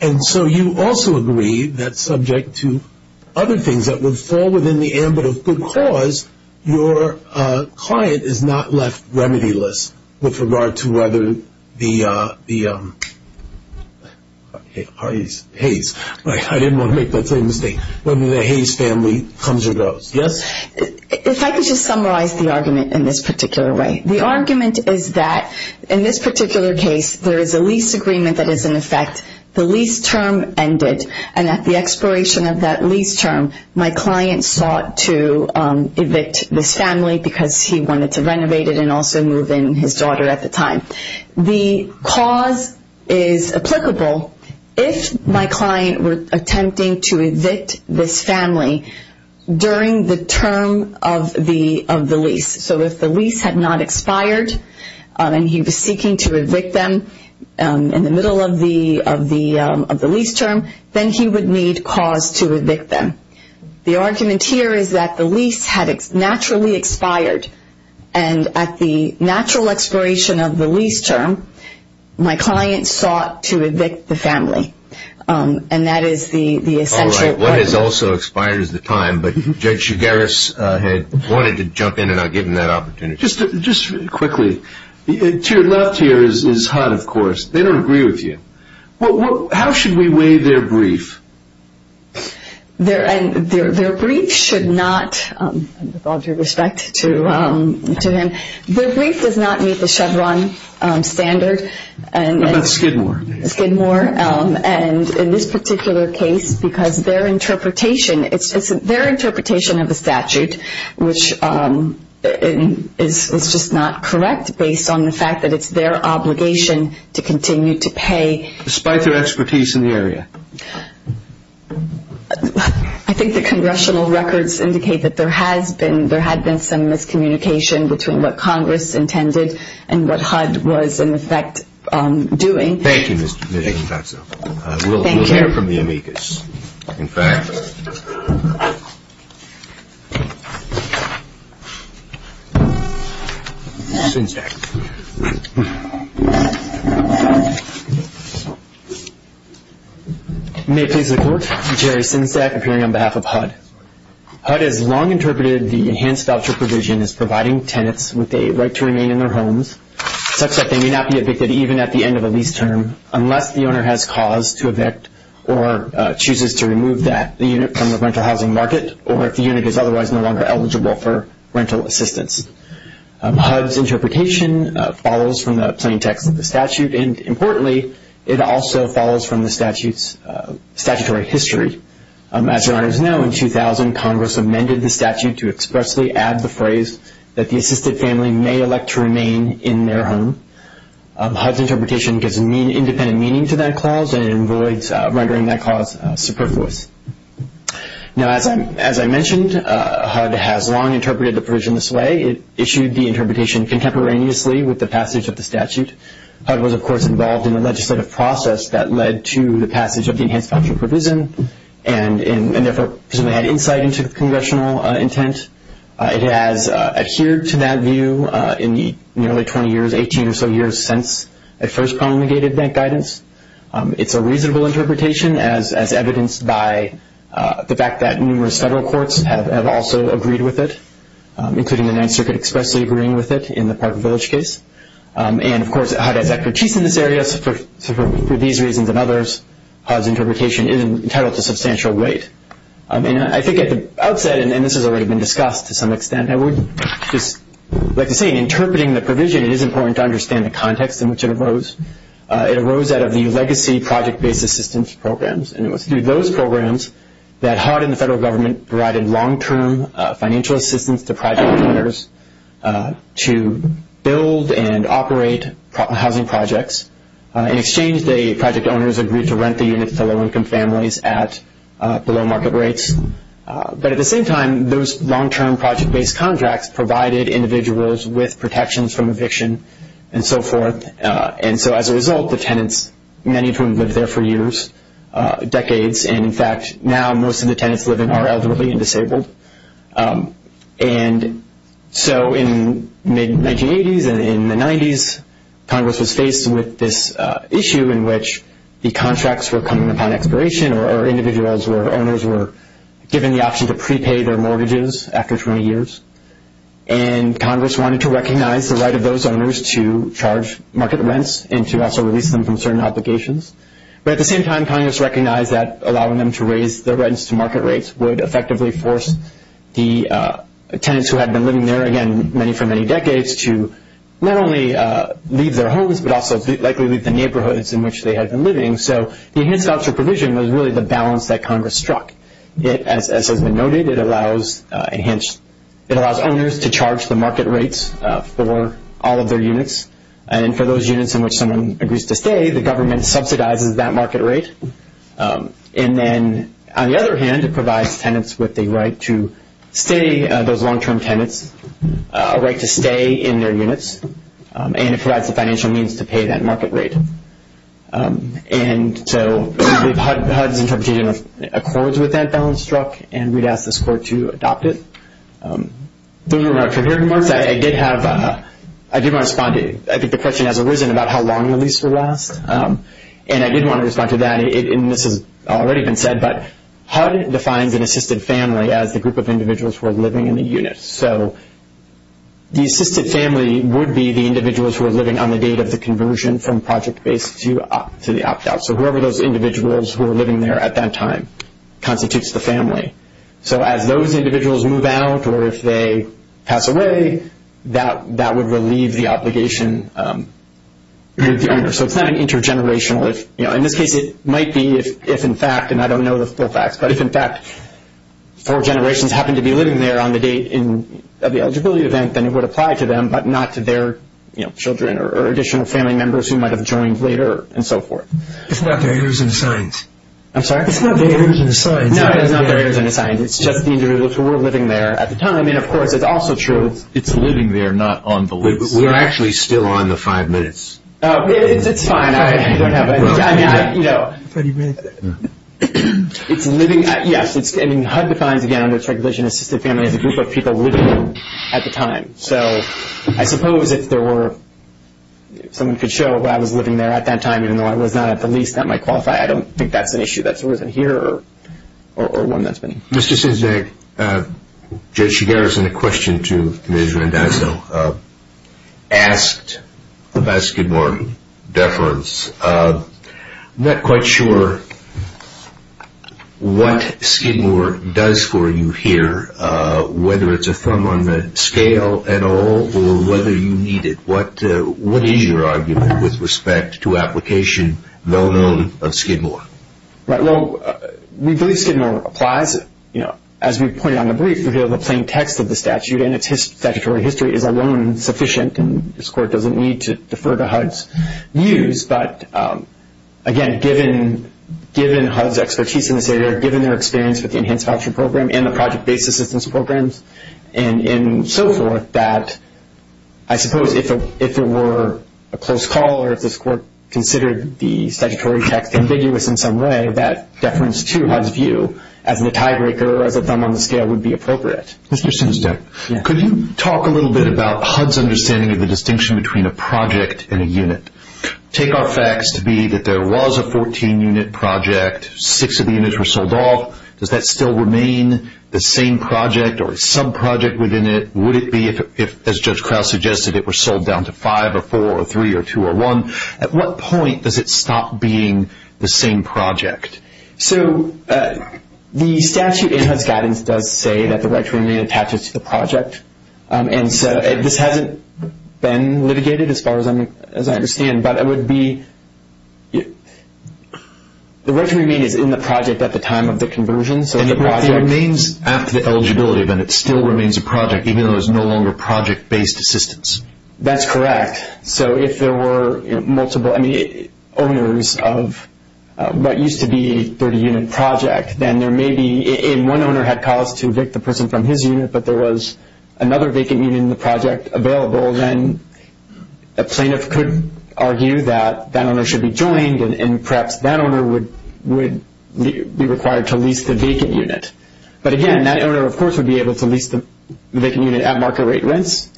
And so you also agree that subject to other things that would fall within the ambit of good cause, your client is not left remedy-less with regard to whether the Hayes family comes or goes. Yes? If I could just summarize the argument in this particular way. The argument is that in this particular case, there is a lease agreement that is in effect. The lease term ended. And at the expiration of that lease term, my client sought to evict this family because he wanted to renovate it and also move in his daughter at the time. The cause is applicable if my client was attempting to evict this family during the term of the lease. So if the lease had not expired and he was seeking to evict them in the middle of the lease term, then he would need cause to evict them. The argument here is that the lease had naturally expired. And at the natural expiration of the lease term, my client sought to evict the family. And that is the essential question. One has also expired at the time, but Judge Chigaris had wanted to jump in and I'll give him that opportunity. Just quickly, tiered up here is HUD, of course. They don't agree with you. How should we weigh their brief? Their brief should not, with all due respect to him, their brief does not meet the Chevron standard. Not Skidmore. Skidmore. And in this particular case, because their interpretation, it's their interpretation of the statute, which is just not correct based on the fact that it's their obligation to continue to pay. Despite their expertise in the area. I think the congressional records indicate that there has been some miscommunication between what Congress intended and what HUD was, in effect, doing. Thank you, Ms. Infantso. We'll hear from the amicus. Infantso. Synsac. May I please report? Jerry Synsac, appearing on behalf of HUD. HUD has long interpreted the enhanced voucher provision as providing tenants with a right to remain in their homes, such that they may not be evicted even at the end of a lease term, unless the owner has cause to evict or chooses to remove that unit from the rental housing market or if the unit is otherwise no longer eligible for rental assistance. HUD's interpretation follows from the plaintiff statute and, importantly, it also follows from the statute's statutory history. As you already know, in 2000, Congress amended the statute to expressly add the phrase that the assisted family may elect to remain in their home. HUD's interpretation gives independent meaning to that clause and avoids rendering that clause superfluous. Now, as I mentioned, HUD has long interpreted the provision this way. It issued the interpretation contemporaneously with the passage of the statute. HUD was, of course, involved in the legislative process that led to the passage of the enhanced voucher provision and therefore had insight into congressional intent. It has adhered to that view in the early 20 years, 18 or so years since it first promulgated that guidance. It's a reasonable interpretation as evidenced by the fact that numerous federal courts have also agreed with it, including the Ninth Circuit expressly agreeing with it in the Park and Village case. And, of course, HUD has expertise in this area. For these reasons and others, HUD's interpretation is entitled to substantial weight. I think at the outset, and this has already been discussed to some extent, I would just like to say interpreting the provision, it is important to understand the context in which it arose. It arose out of the legacy project-based assistance programs, and it was through those programs that HUD and the federal government provided long-term financial assistance to project owners to build and operate housing projects. In exchange, the project owners agreed to rent the units to low-income families at below market rates. But at the same time, those long-term project-based contracts provided individuals with protections from eviction and so forth. And so as a result, the tenants, many of whom lived there for years, decades, and, in fact, now most of the tenants living there are elderly and disabled. And so in the 1980s and in the 1990s, Congress was faced with this issue in which the contracts were coming upon expiration or individuals or owners were given the option to prepay their mortgages after 20 years. And Congress wanted to recognize the right of those owners to charge market rents and to also release them from certain obligations. But at the same time, Congress recognized that allowing them to raise their rents to market rates would effectively force the tenants who had been living there, again, many for many decades, to not only leave their homes but also likely leave the neighborhoods in which they had been living. So enhanced housing provision was really the balance that Congress struck. As has been noted, it allows owners to charge the market rates for all of their units. And for those units in which someone agrees to stay, the government subsidizes that market rate. And then, on the other hand, it provides tenants with the right to stay, those long-term tenants, a right to stay in their units, and it provides the financial means to pay that market rate. And so HUD's interpretation of course was that balance struck, and we'd ask the score to adopt it. Those are my prepared remarks. I did want to respond. I think the question has arisen about how long the lease will last, and I did want to respond to that. And this has already been said, but HUD defined an assisted family as a group of individuals who are living in the unit. So the assisted family would be the individuals who are living on the date of the conversion from project-based to the opt-out. So whoever those individuals who are living there at that time constitutes the family. So as those individuals move out or if they pass away, that would relieve the obligation with the owner. So it's kind of intergenerational. And I think it might be if, in fact, and I don't know the full facts, but if, in fact, four generations happen to be living there on the date of the eligibility event, then it would apply to them but not to their children or additional family members who might have returned later and so forth. It's not the years and signs. I'm sorry? It's not the years and signs. No, it's not the years and signs. It's just the individuals who were living there at the time. And, of course, it's also true. It's living there, not on the lease. We're actually still on the five minutes. It's fine. I mean, you know, it's living. Yes, and HUD defines, again, under its requisition, assisted family as a group of people living there at the time. So I suppose if there were, someone could show that I was living there at that time, even though I was not at the lease, that might qualify. I don't think that's an issue that's worth adhering to or one that's been. Mr. Sinzak, Joe Chigares and a question to Ms. Rendazzo. Asked about Skidmore deference, I'm not quite sure what Skidmore does for you here, whether it's a thumb on the scale at all or whether you need it. What is your argument with respect to application known of Skidmore? Well, we believe Skidmore applies. As we pointed out in the brief, we have the plain text of the statute and its statutory history is alone sufficient and this court doesn't need to defer to HUD's use. But, again, given HUD's expertise in this area, given their experience with the Enhanced Action Program and the Project-Based Assistance Program and so forth that I suppose if there were a close call or if this court considered the statutory text ambiguous in some way, that deference to HUD's view as the tiebreaker of a thumb on the scale would be appropriate. Mr. Sinzak, could you talk a little bit about HUD's understanding of the distinction between a project and a unit? Take our facts to be that there was a 14-unit project, six of the units were sold off. Does that still remain the same project or a sub-project within it? Would it be if, as Judge Krause suggested, it were sold down to five or four or three or two or one? At what point does it stop being the same project? So the statute in HUD's guidance does say that the record remain attached to the project. And so it just hasn't been litigated as far as I understand. But it would be, the record remains in the project at the time of the conversion. It remains at the eligibility, but it still remains a project even though it's no longer project-based assistance. That's correct. So if there were multiple owners of what used to be a 30-unit project, then there may be, and one owner had calls to evict the person from his unit, but there was another vacant unit in the project available, then a plaintiff could argue that that owner should be joined and perhaps that owner would be required to lease the vacant unit. But again, that owner, of course, would be able to lease the vacant unit at market rate rents.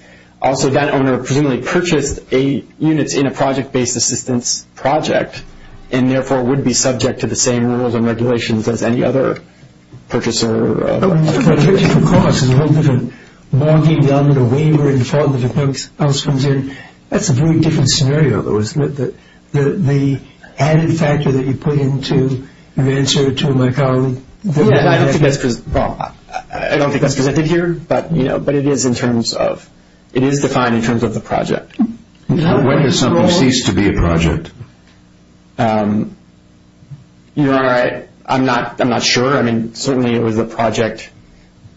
Also, that owner presumably purchased a unit in a project-based assistance project and therefore would be subject to the same rules and regulations as any other purchaser. Of course. The rules are more being done in a way where the Department of Health comes in. That's a very different scenario, though, isn't it? The added factor that you put into your answer to my colleague. Well, I don't think that's connected here, but it is in terms of, it is defined in terms of the project. When does something cease to be a project? You know, I'm not sure. I mean, certainly it was a project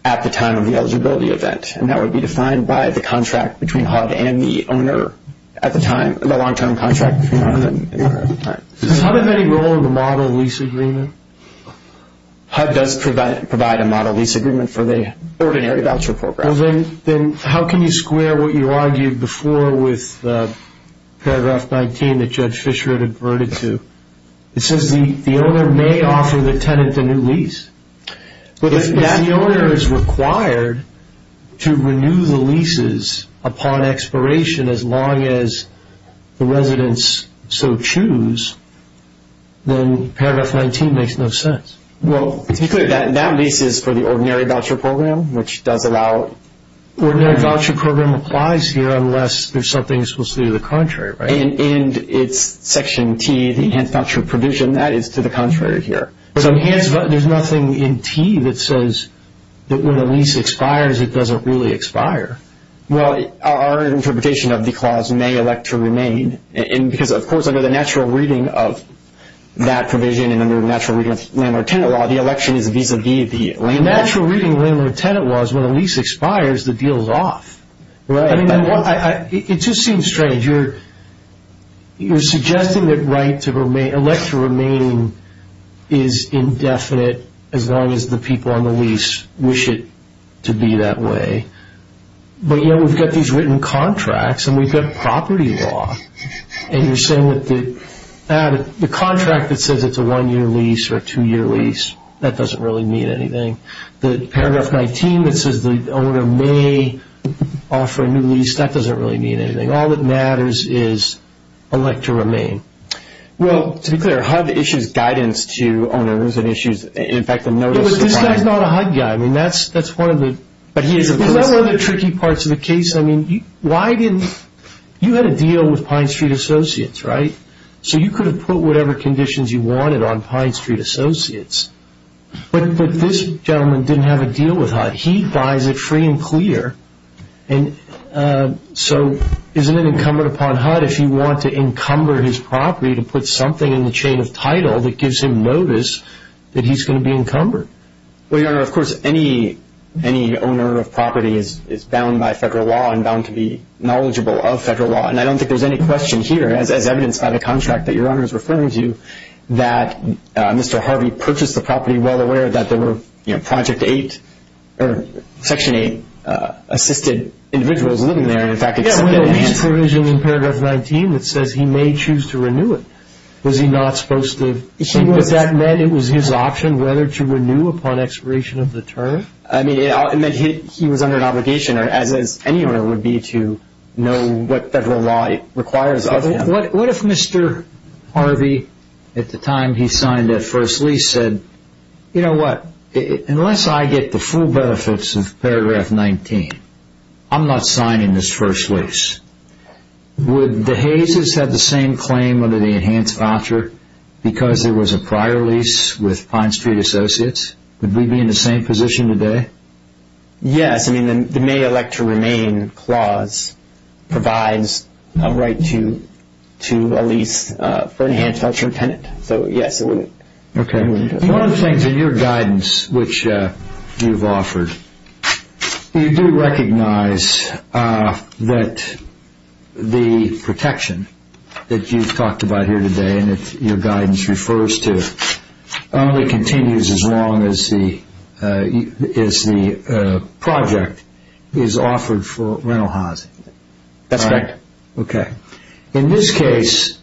at the time of the eligibility event, and that would be defined by the contract between HUD and the owner at the time, the long-term contract. Does HUD have any role in the model lease agreement? HUD does provide a model lease agreement for the ordinary voucher program. Well, then how can you square what you argued before with Paragraph 19 that Judge Fischer had reverted to? It says the owner may offer the tenant a new lease, but if that owner is required to renew the leases upon expiration as long as the residents so choose, then Paragraph 19 makes no sense. Well, that lease is for the ordinary voucher program, which does allow. Ordinary voucher program applies here unless there's something that's supposed to be the contrary, right? And it's Section T, the enhanced voucher provision. That is to the contrary here. There's nothing in T that says that when a lease expires, it doesn't really expire. Well, our interpretation of the clause may elect to remain, because, of course, under the natural reading of that provision and under the natural reading of landlord-tenant law, the election is to be the lease. The natural reading of landlord-tenant law is when a lease expires, the deal is off. Right. It just seems strange. You're suggesting that right to remain, elect to remain, is indefinite as long as the people on the lease wish it to be that way. But, you know, we've got these written contracts, and we've got property law, and you're saying that the contract that says it's a one-year lease or a two-year lease, that doesn't really mean anything. The Paragraph 19 that says the owner may offer a new lease, that doesn't really mean anything. All that matters is elect to remain. Well, to be clear, HUD issues guidance to owners and issues, in fact, a notice. He's not a HUD guy. I mean, that's one of the other tricky parts of the case. I mean, you had a deal with Pine Street Associates, right? So you could have put whatever conditions you wanted on Pine Street Associates. But this gentleman didn't have a deal with HUD. He finds it free and clear. So isn't it incumbent upon HUD, if you want to encumber his property, to put something in the chain of title that gives him notice that he's going to be encumbered? Well, Your Honor, of course, any owner of property is bound by federal law and bound to be knowledgeable of federal law. And I don't think there's any question here, as evidenced by the contract that Your Honor is referring to, that Mr. Harvey purchased the property well aware that there were Project 8 or Section 8-assisted individuals living there. Yeah, what about his provision in Paragraph 19 that says he may choose to renew it? Was he not supposed to? Would that mean it was his option whether to renew upon expiration of the term? I mean, he was under an obligation, as any owner would be, to know what federal law requires of him. What if Mr. Harvey, at the time he signed that first lease, said, You know what? Unless I get the full benefits of Paragraph 19, I'm not signing this first lease. Would the Hayes' have the same claim under the enhanced voucher because there was a prior lease with Pine Street Associates? Would we be in the same position today? Yes. I mean, the may elect to remain clause provides a right to a lease for an enhanced voucher tenant. Okay. One of the things in your guidance which you've offered, you do recognize that the protection that you've talked about here today and that your guidance refers to only continues as long as the project is offered for rental housing. That's correct. Okay. In this case,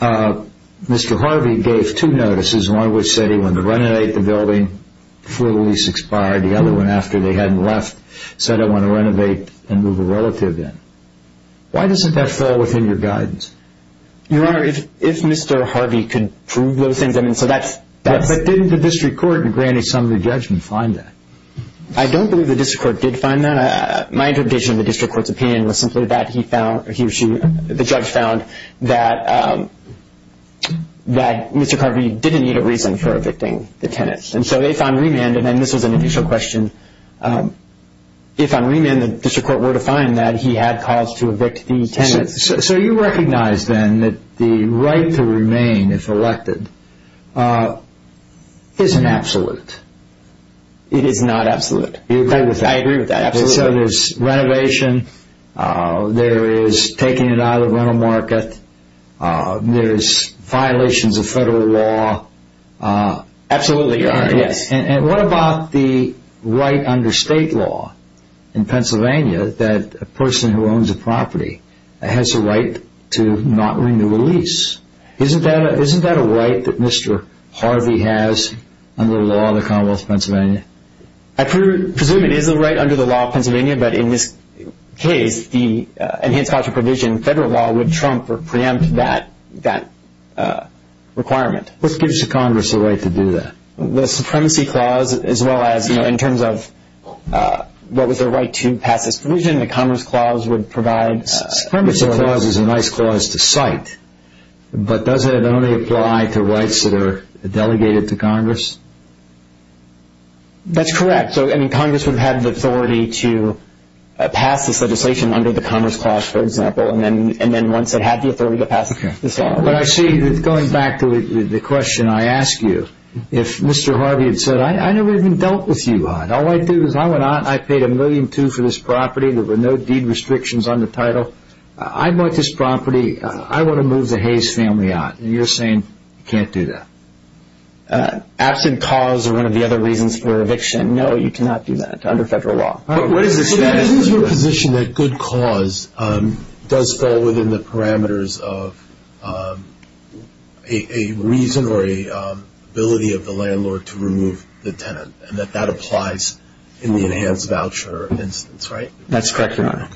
Mr. Harvey gave two notices, one which said he wanted to renovate the building before the lease expired. The other one, after they hadn't left, said, I want to renovate and move a relative in. Why doesn't that fall within your guidance? Your Honor, if Mr. Harvey could prove those things, I mean, so that's But didn't the district court in granting some of the judgment find that? I don't believe the district court did find that. My interpretation of the district court's opinion was simply that the judge found that Mr. Harvey didn't need a reason for evicting the tenant. And so if on remand, and this was an additional question, if on remand the district court were to find that he had cause to evict the tenant. So you recognize then that the right to remain, if elected, isn't absolute. It is not absolute. I agree with that. So there's renovation, there is taking it out of rental market, there's violations of federal law. Absolutely, Your Honor. And what about the right under state law in Pennsylvania that a person who owns a property has a right to not renew a lease? Isn't that a right that Mr. Harvey has under the law of the Commonwealth of Pennsylvania? I presume it is a right under the law of Pennsylvania, but in this case, the enhanced property provision in federal law would trump or preempt that requirement. What gives the Congress the right to do that? The Supremacy Clause, as well as, you know, in terms of what was their right to pass a solution, the Congress Clause would provide... The Supremacy Clause is a nice clause to cite. But does it only apply to rights that are delegated to Congress? That's correct. So, I mean, Congress would have the authority to pass this legislation under the Congress Clause, for example, and then once it had the authority to pass it, it would pass it. But I see, going back to the question I asked you, if Mr. Harvey had said, I never even dealt with you, all I do is I paid $1.2 million for this property, I want to move the Hayes family out. And you're saying you can't do that. Absent cause is one of the other reasons for eviction. No, you cannot do that. It's under federal law. So that's your position that good cause does fall within the parameters of a reason or an ability of the landlord to remove the tenant, and that that applies in the enhanced voucher, right? That's correct, Your Honor.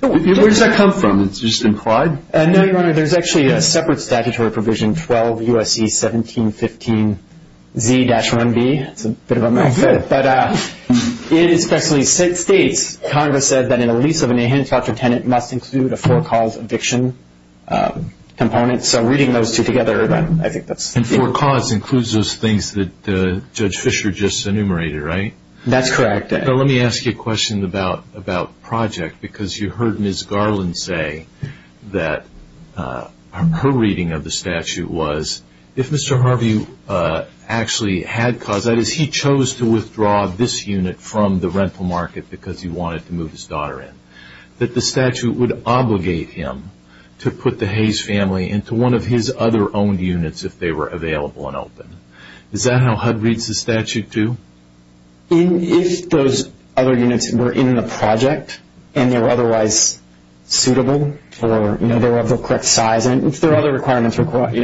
Where does that come from? Is it just implied? No, Your Honor. There's actually a separate statutory provision, 12 U.S.C. 1715 V-1B. It's a bit of a mess. But it is technically state-state. Congress says that in a lease of an enhanced voucher tenant must include a for-cause eviction component. So reading those two together, I think that's the answer. And for-cause includes those things that Judge Fischer just enumerated, right? That's correct. Let me ask you a question about project because you heard Ms. Garland say that her reading of the statute was, if Mr. Harvey actually had cause, that is, he chose to withdraw this unit from the rental market because he wanted to move his daughter in, that the statute would obligate him to put the Hayes family into one of his other owned units if they were available and open. Is that how HUD reads the statute too? If those other units were in the project and they were otherwise suitable or they were of the correct size, if there are other requirements required.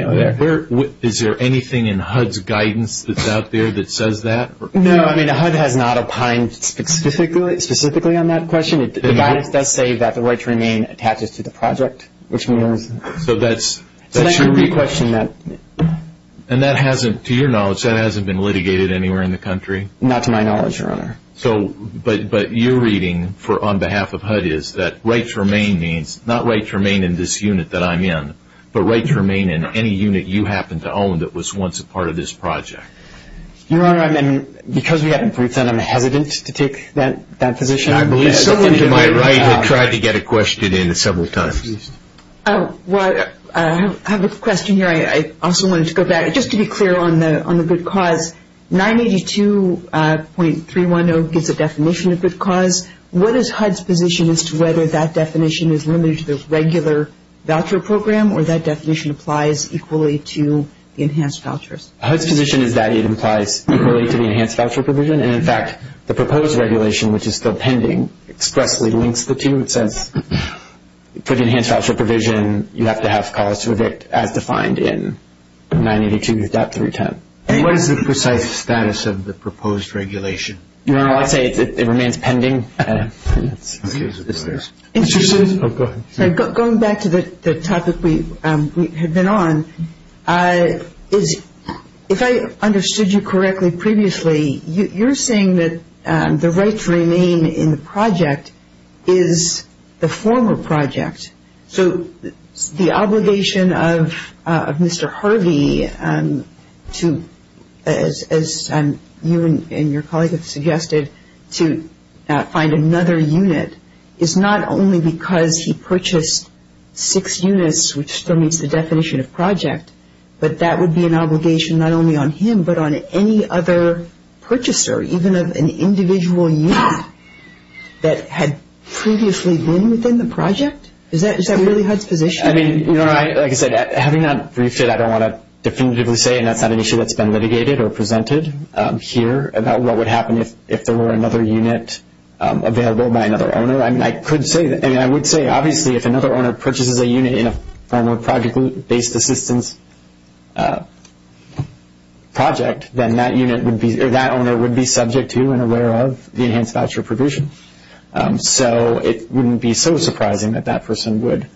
Is there anything in HUD's guidance that's out there that says that? No, I mean HUD has not opined specifically on that question. The guidance does say that the right to remain attaches to the project. So that should be questioned. And that hasn't, to your knowledge, that hasn't been litigated anywhere in the country? Not to my knowledge, Your Honor. But your reading on behalf of HUD is that right to remain means, not right to remain in this unit that I'm in, but right to remain in any unit you happen to own that was once a part of this project. Your Honor, I mean, because we haven't put it down, I'm hesitant to take that position. I believe it's my right to try to get a question in several times. Well, I have a question here. I also wanted to go back. Just to be clear on the good cause, 982.310 gives a definition of good cause. What is HUD's position as to whether that definition is limited to the regular voucher program or that definition applies equally to enhanced vouchers? HUD's position is that it applies equally to the enhanced voucher provision. And, in fact, the proposed regulation, which is still pending, strictly links the two, so for the enhanced voucher provision, you have to have calls with it as defined in 982.310. And what is the precise status of the proposed regulation? Your Honor, I'll say it remains pending. Going back to the topic we had been on, if I understood you correctly previously, you're saying that the right to remain in the project is the former project. So the obligation of Mr. Harvey, as you and your colleagues have suggested, to find another unit is not only because he purchased six units, which still meets the definition of project, but that would be an obligation not only on him, but on any other purchaser, even of an individual unit that had previously been within the project? Is that really HUD's position? I mean, Your Honor, like I said, having that briefed here, I don't want to definitively say that's not an issue that's been litigated or presented here about what would happen if there were another unit available by another owner. I mean, I could say that, and I would say, obviously, if another owner purchases a unit in a former project-based assistance project, then that owner would be subject to and aware of the enhanced voucher provision. So it wouldn't be so surprising that that person would.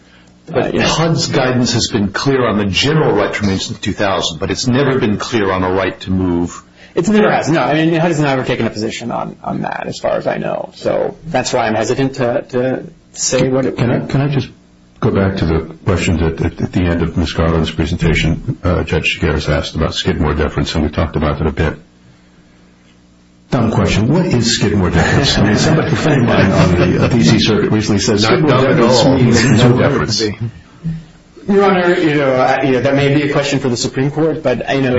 HUD's guidance has been clear on the general right to remain since 2000, but it's never been clear on a right to move. It's never had. No, HUD has never taken a position on that as far as I know. So that's why I'm hesitating to say what it could be. Can I just go back to the questions at the end of Ms. Garland's presentation? Judge Shigeru has asked about Skidmore deference, and we've talked about that a bit. I have a question. What is Skidmore deference? Can anybody explain why a PC circuit recently says Skidmore deference means no deference? Your Honor, you know, that may be a question for the Supreme Court, but, you know,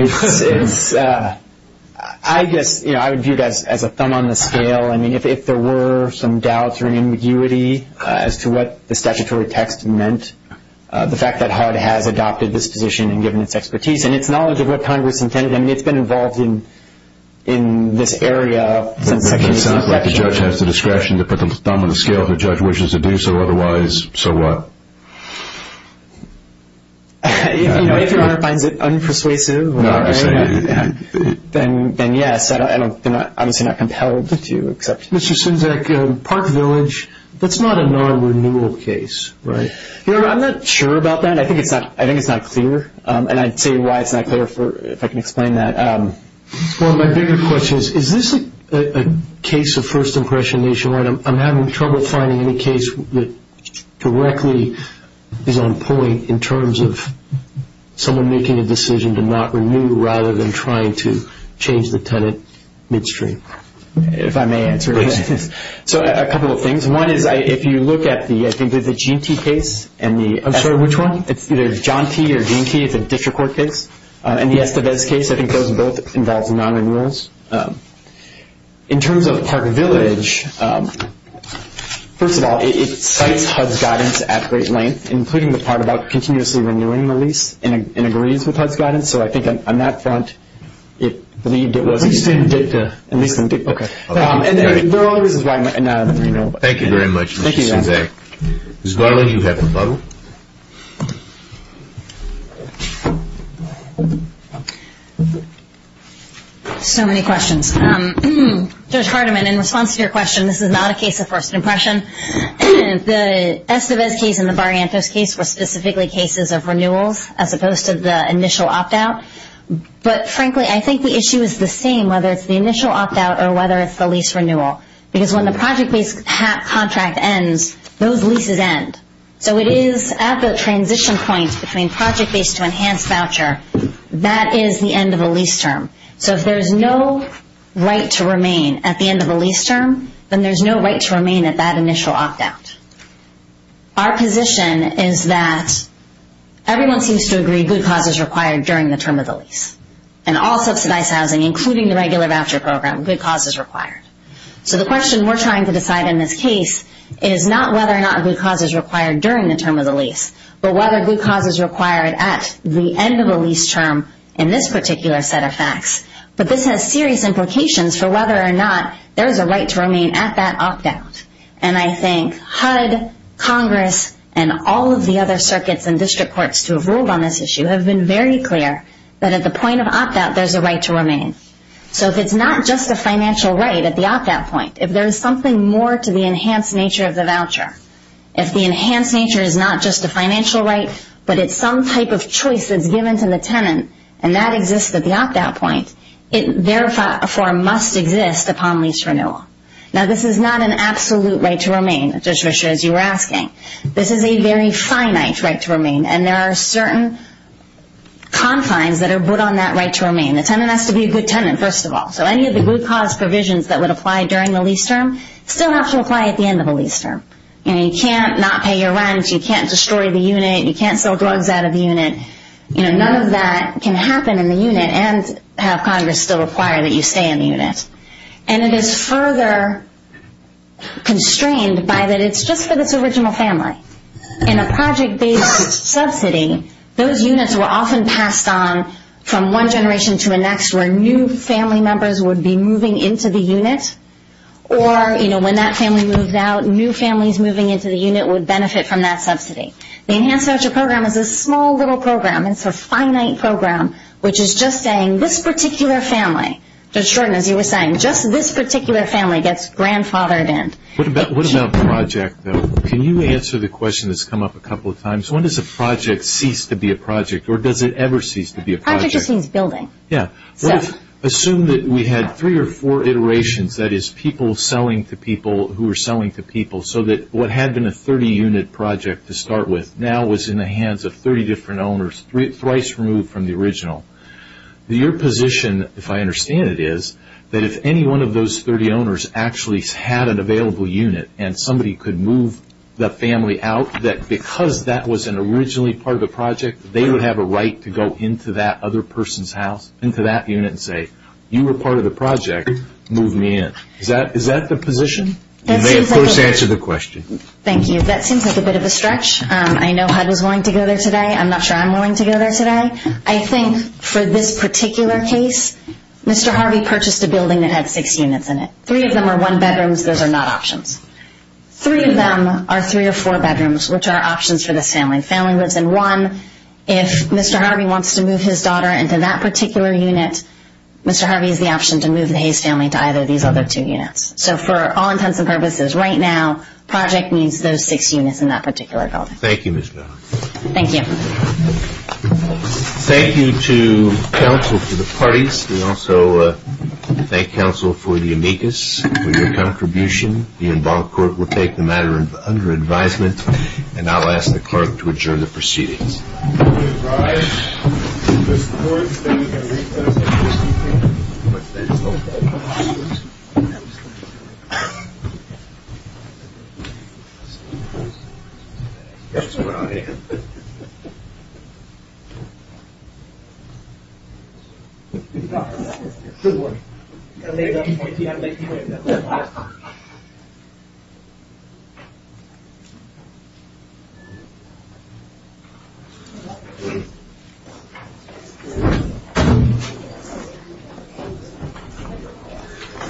I guess I would view that as a thumb on the scale. I mean, if there were some doubts or ambiguity as to what the statutory text meant, the fact that HUD has adopted this position and given its expertise and its knowledge of what kind of its intent is, I mean, it's been involved in this area. It sounds like the judge has the discretion to put the thumb on the scale if the judge wishes to do so. Otherwise, so what? If you're making that up, I'm persuasive. Then, yes, I'm obviously not compelling to you. Mr. Sendak, Park Village, that's not a non-renewal case, right? Your Honor, I'm not sure about that. I think it's not clear, and I'd say why it's not clear if I can explain that. Well, my bigger question is, is this a case of first impression issue or am I having trouble finding a case that directly is on point in terms of someone making a decision to not renew rather than trying to change the tenant midstream? If I may answer this. So a couple of things. One is if you look at the, I think it's a G&T case. I'm sorry, which one? It's either John T. or G&T. It's a district court case. And, yes, the VEDS case, I think those both involve non-renewals. In terms of Park Village, first of all, it cites HUD's guidance at great length, including the part about continuously renewing the lease in agreement with HUD's guidance. So I think on that front, it would be a good look. I just didn't get to. Okay. And there always is a non-renewal. Thank you very much, Mr. Sendak. Thank you, Your Honor. Ms. Garland, you have a vote. Thank you. So many questions. Judge Hardiman, in response to your question, this is not a case of first impression. The SOS case and the Barrientos case were specifically cases of renewals as opposed to the initial opt-out. But, frankly, I think the issue is the same, whether it's the initial opt-out or whether it's the lease renewal. Because when the project lease contract ends, those leases end. So it is at the transition point between project-based to enhanced voucher, that is the end of the lease term. So if there's no right to remain at the end of the lease term, then there's no right to remain at that initial opt-out. Our position is that everyone seems to agree good cause is required during the term of the lease. And all subsidized housing, including the regular voucher program, good cause is required. So the question we're trying to decide in this case is not whether or not good cause is required during the term of the lease, but whether good cause is required at the end of the lease term in this particular set of facts. But this has serious implications for whether or not there is a right to remain at that opt-out. And I think HUD, Congress, and all of the other circuits and district courts who have ruled on this issue have been very clear that at the point of opt-out, there's a right to remain. So if it's not just a financial right at the opt-out point, if there's something more to the enhanced nature of the voucher, if the enhanced nature is not just a financial right, but it's some type of choice that's given to the tenant and that exists at the opt-out point, it therefore must exist upon lease renewal. Now, this is not an absolute right to remain, as you were asking. This is a very finite right to remain. And there are certain confines that are put on that right to remain. The tenant has to be a good tenant, first of all. So any of the good cause provisions that would apply during the lease term still have to apply at the end of the lease term. And you can't not pay your rent. You can't destroy the unit. You can't sell drugs out of the unit. None of that can happen in the unit and have Congress still require that you stay in the unit. And it is further constrained by that it's just for this original family. In a project-based subsidy, those units were often passed on from one generation to the next where new family members would be moving into the unit or, you know, when that family moves out, new families moving into the unit would benefit from that subsidy. The enhanced voucher program is a small little program. It's a finite program, which is just saying this particular family, just as you were saying, just this particular family gets grandfathered in. What about a project, though? Can you answer the question that's come up a couple of times? When does a project cease to be a project, or does it ever cease to be a project? How does it change building? Yeah. Assume that we had three or four iterations, that is, people selling to people who are selling to people, so that what had been a 30-unit project to start with now was in the hands of 30 different owners, thrice removed from the original. Your position, if I understand it, is that if any one of those 30 owners actually had an available unit and somebody could move the family out, that because that was an originally part of the project, they would have a right to go into that other person's house, into that unit, and say, you were part of the project, move me in. Is that the position? You may, of course, answer the question. Thank you. That seems like a bit of a stretch. I know HUD was willing to go there today. I'm not sure I'm willing to go there today. I think for this particular case, Mr. Harvey purchased a building that had six units in it. Three of them are one-bedrooms. Those are not options. Three of them are three- or four-bedrooms, which are options for the family. Family lives in one. If Mr. Harvey wants to move his daughter into that particular unit, Mr. Harvey has the option to move his family to either of these other two units. So for all intents and purposes, right now, project means those six units and that particular building. Thank you, Ms. Bell. Thank you. Thank you to counsel for the parties. We also thank counsel for the amicus, for your contribution. The involved court will take the matter under advisement, and I'll ask the clerk to adjourn the proceeding. Good work.